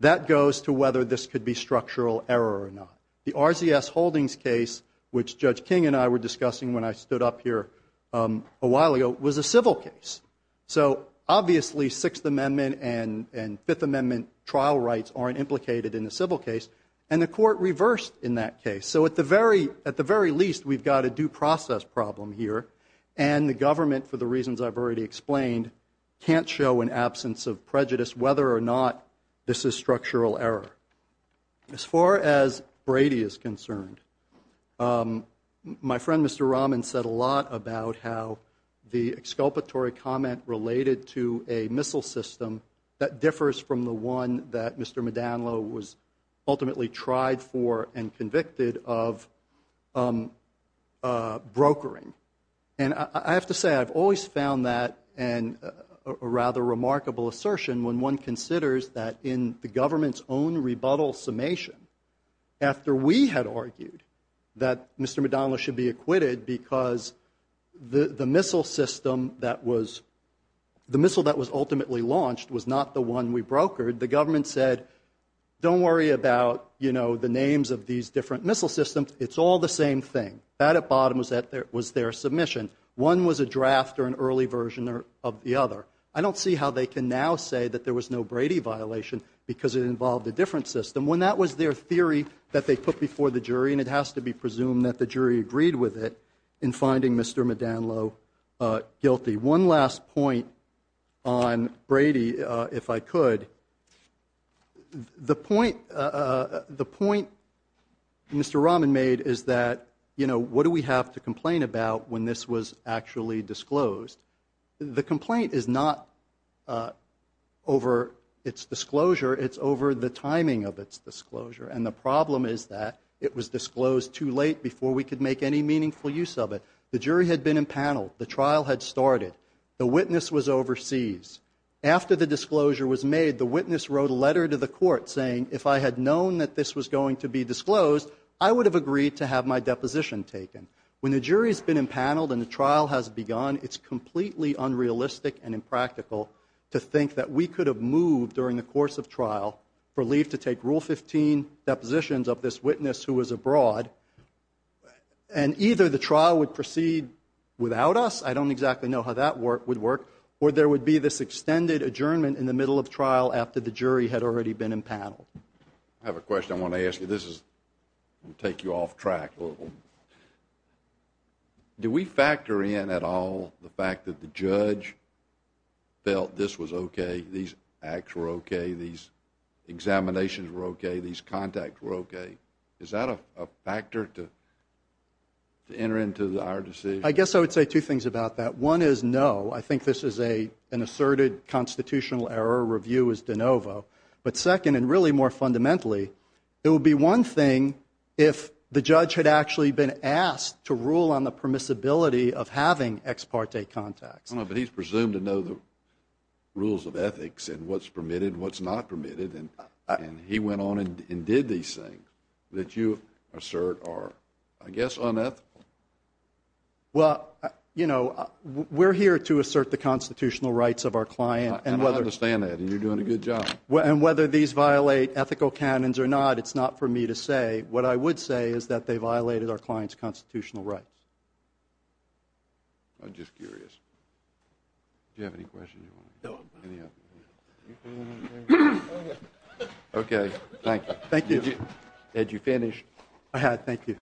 that goes to whether this could be structural error or not. The RZS Holdings case, which Judge King and I were discussing when I stood up here a while ago, was a civil case. Obviously, Sixth Amendment and Fifth Amendment trial rights aren't implicated in the civil case and the court reversed in that case. At the very least, we've got a due process problem here and the government, for the reasons I've already explained, can't show an absence of prejudice whether or not this is structural error. As far as Brady is concerned, my friend Mr. Rahman said a lot about how the exculpatory comment related to a missile system that differs from the one that Mr. Madanlo was ultimately tried for and convicted of brokering. And I have to say, I've always found that and a rather remarkable assertion when one considers that in the government's own rebuttal summation, after we had argued that Mr. Madanlo should be acquitted because the missile system that was ultimately launched was not the one we brokered, the government said, don't worry about the names of these different missile systems. It's all the same thing. That at bottom was their submission. One was a draft or an early version of the other. I don't see how they can now say that there was no Brady violation because it involved a different system. When that was their theory that they put before the jury and it has to be presumed that the jury agreed with it in finding Mr. Madanlo guilty. One last point on Brady, if I could. The point Mr. Rahman made is that what do we have to complain about when this was actually disclosed? The complaint is not over its disclosure. It's over the timing of its disclosure. And the problem is that it was disclosed too late before we could make any meaningful use of it. The jury had been impaneled. The trial had started. The witness was overseas. After the disclosure was made, the witness wrote a letter to the court saying, if I had known that this was going to be disclosed, I would have agreed to have my deposition taken. When the jury has been impaneled and the trial has begun, it's completely unrealistic and impractical to think that we could have moved during the course of trial for leave to take Rule 15 depositions of this witness who was abroad. And either the trial would proceed without us, I don't exactly know how that would work, or there would be this extended adjournment in the middle of trial after the jury had already been impaneled. I have a question I want to ask you. This will take you off track. Do we factor in at all the fact that the judge felt this was OK, these acts were OK, these examinations were OK, these contacts were OK? Is that a factor to enter into our decision? I guess I would say two things about that. One is no. I think this is an asserted constitutional error review as de novo. But second, and really more fundamentally, it would be one thing if the judge had actually been asked to rule on the permissibility of having ex parte contacts. But he's presumed to know the rules of ethics and what's permitted, what's not permitted, and he went on and did these things that you assert are, I guess, unethical. Well, you know, we're here to assert the constitutional rights of our client. And I understand that, and you're doing a good job. And whether these violate ethical canons or not, it's not for me to say. What I would say is that they violated our client's constitutional rights. I'm just curious. Do you have any questions? Okay. Thank you. Thank you. Ed, you finished. I had. Thank you.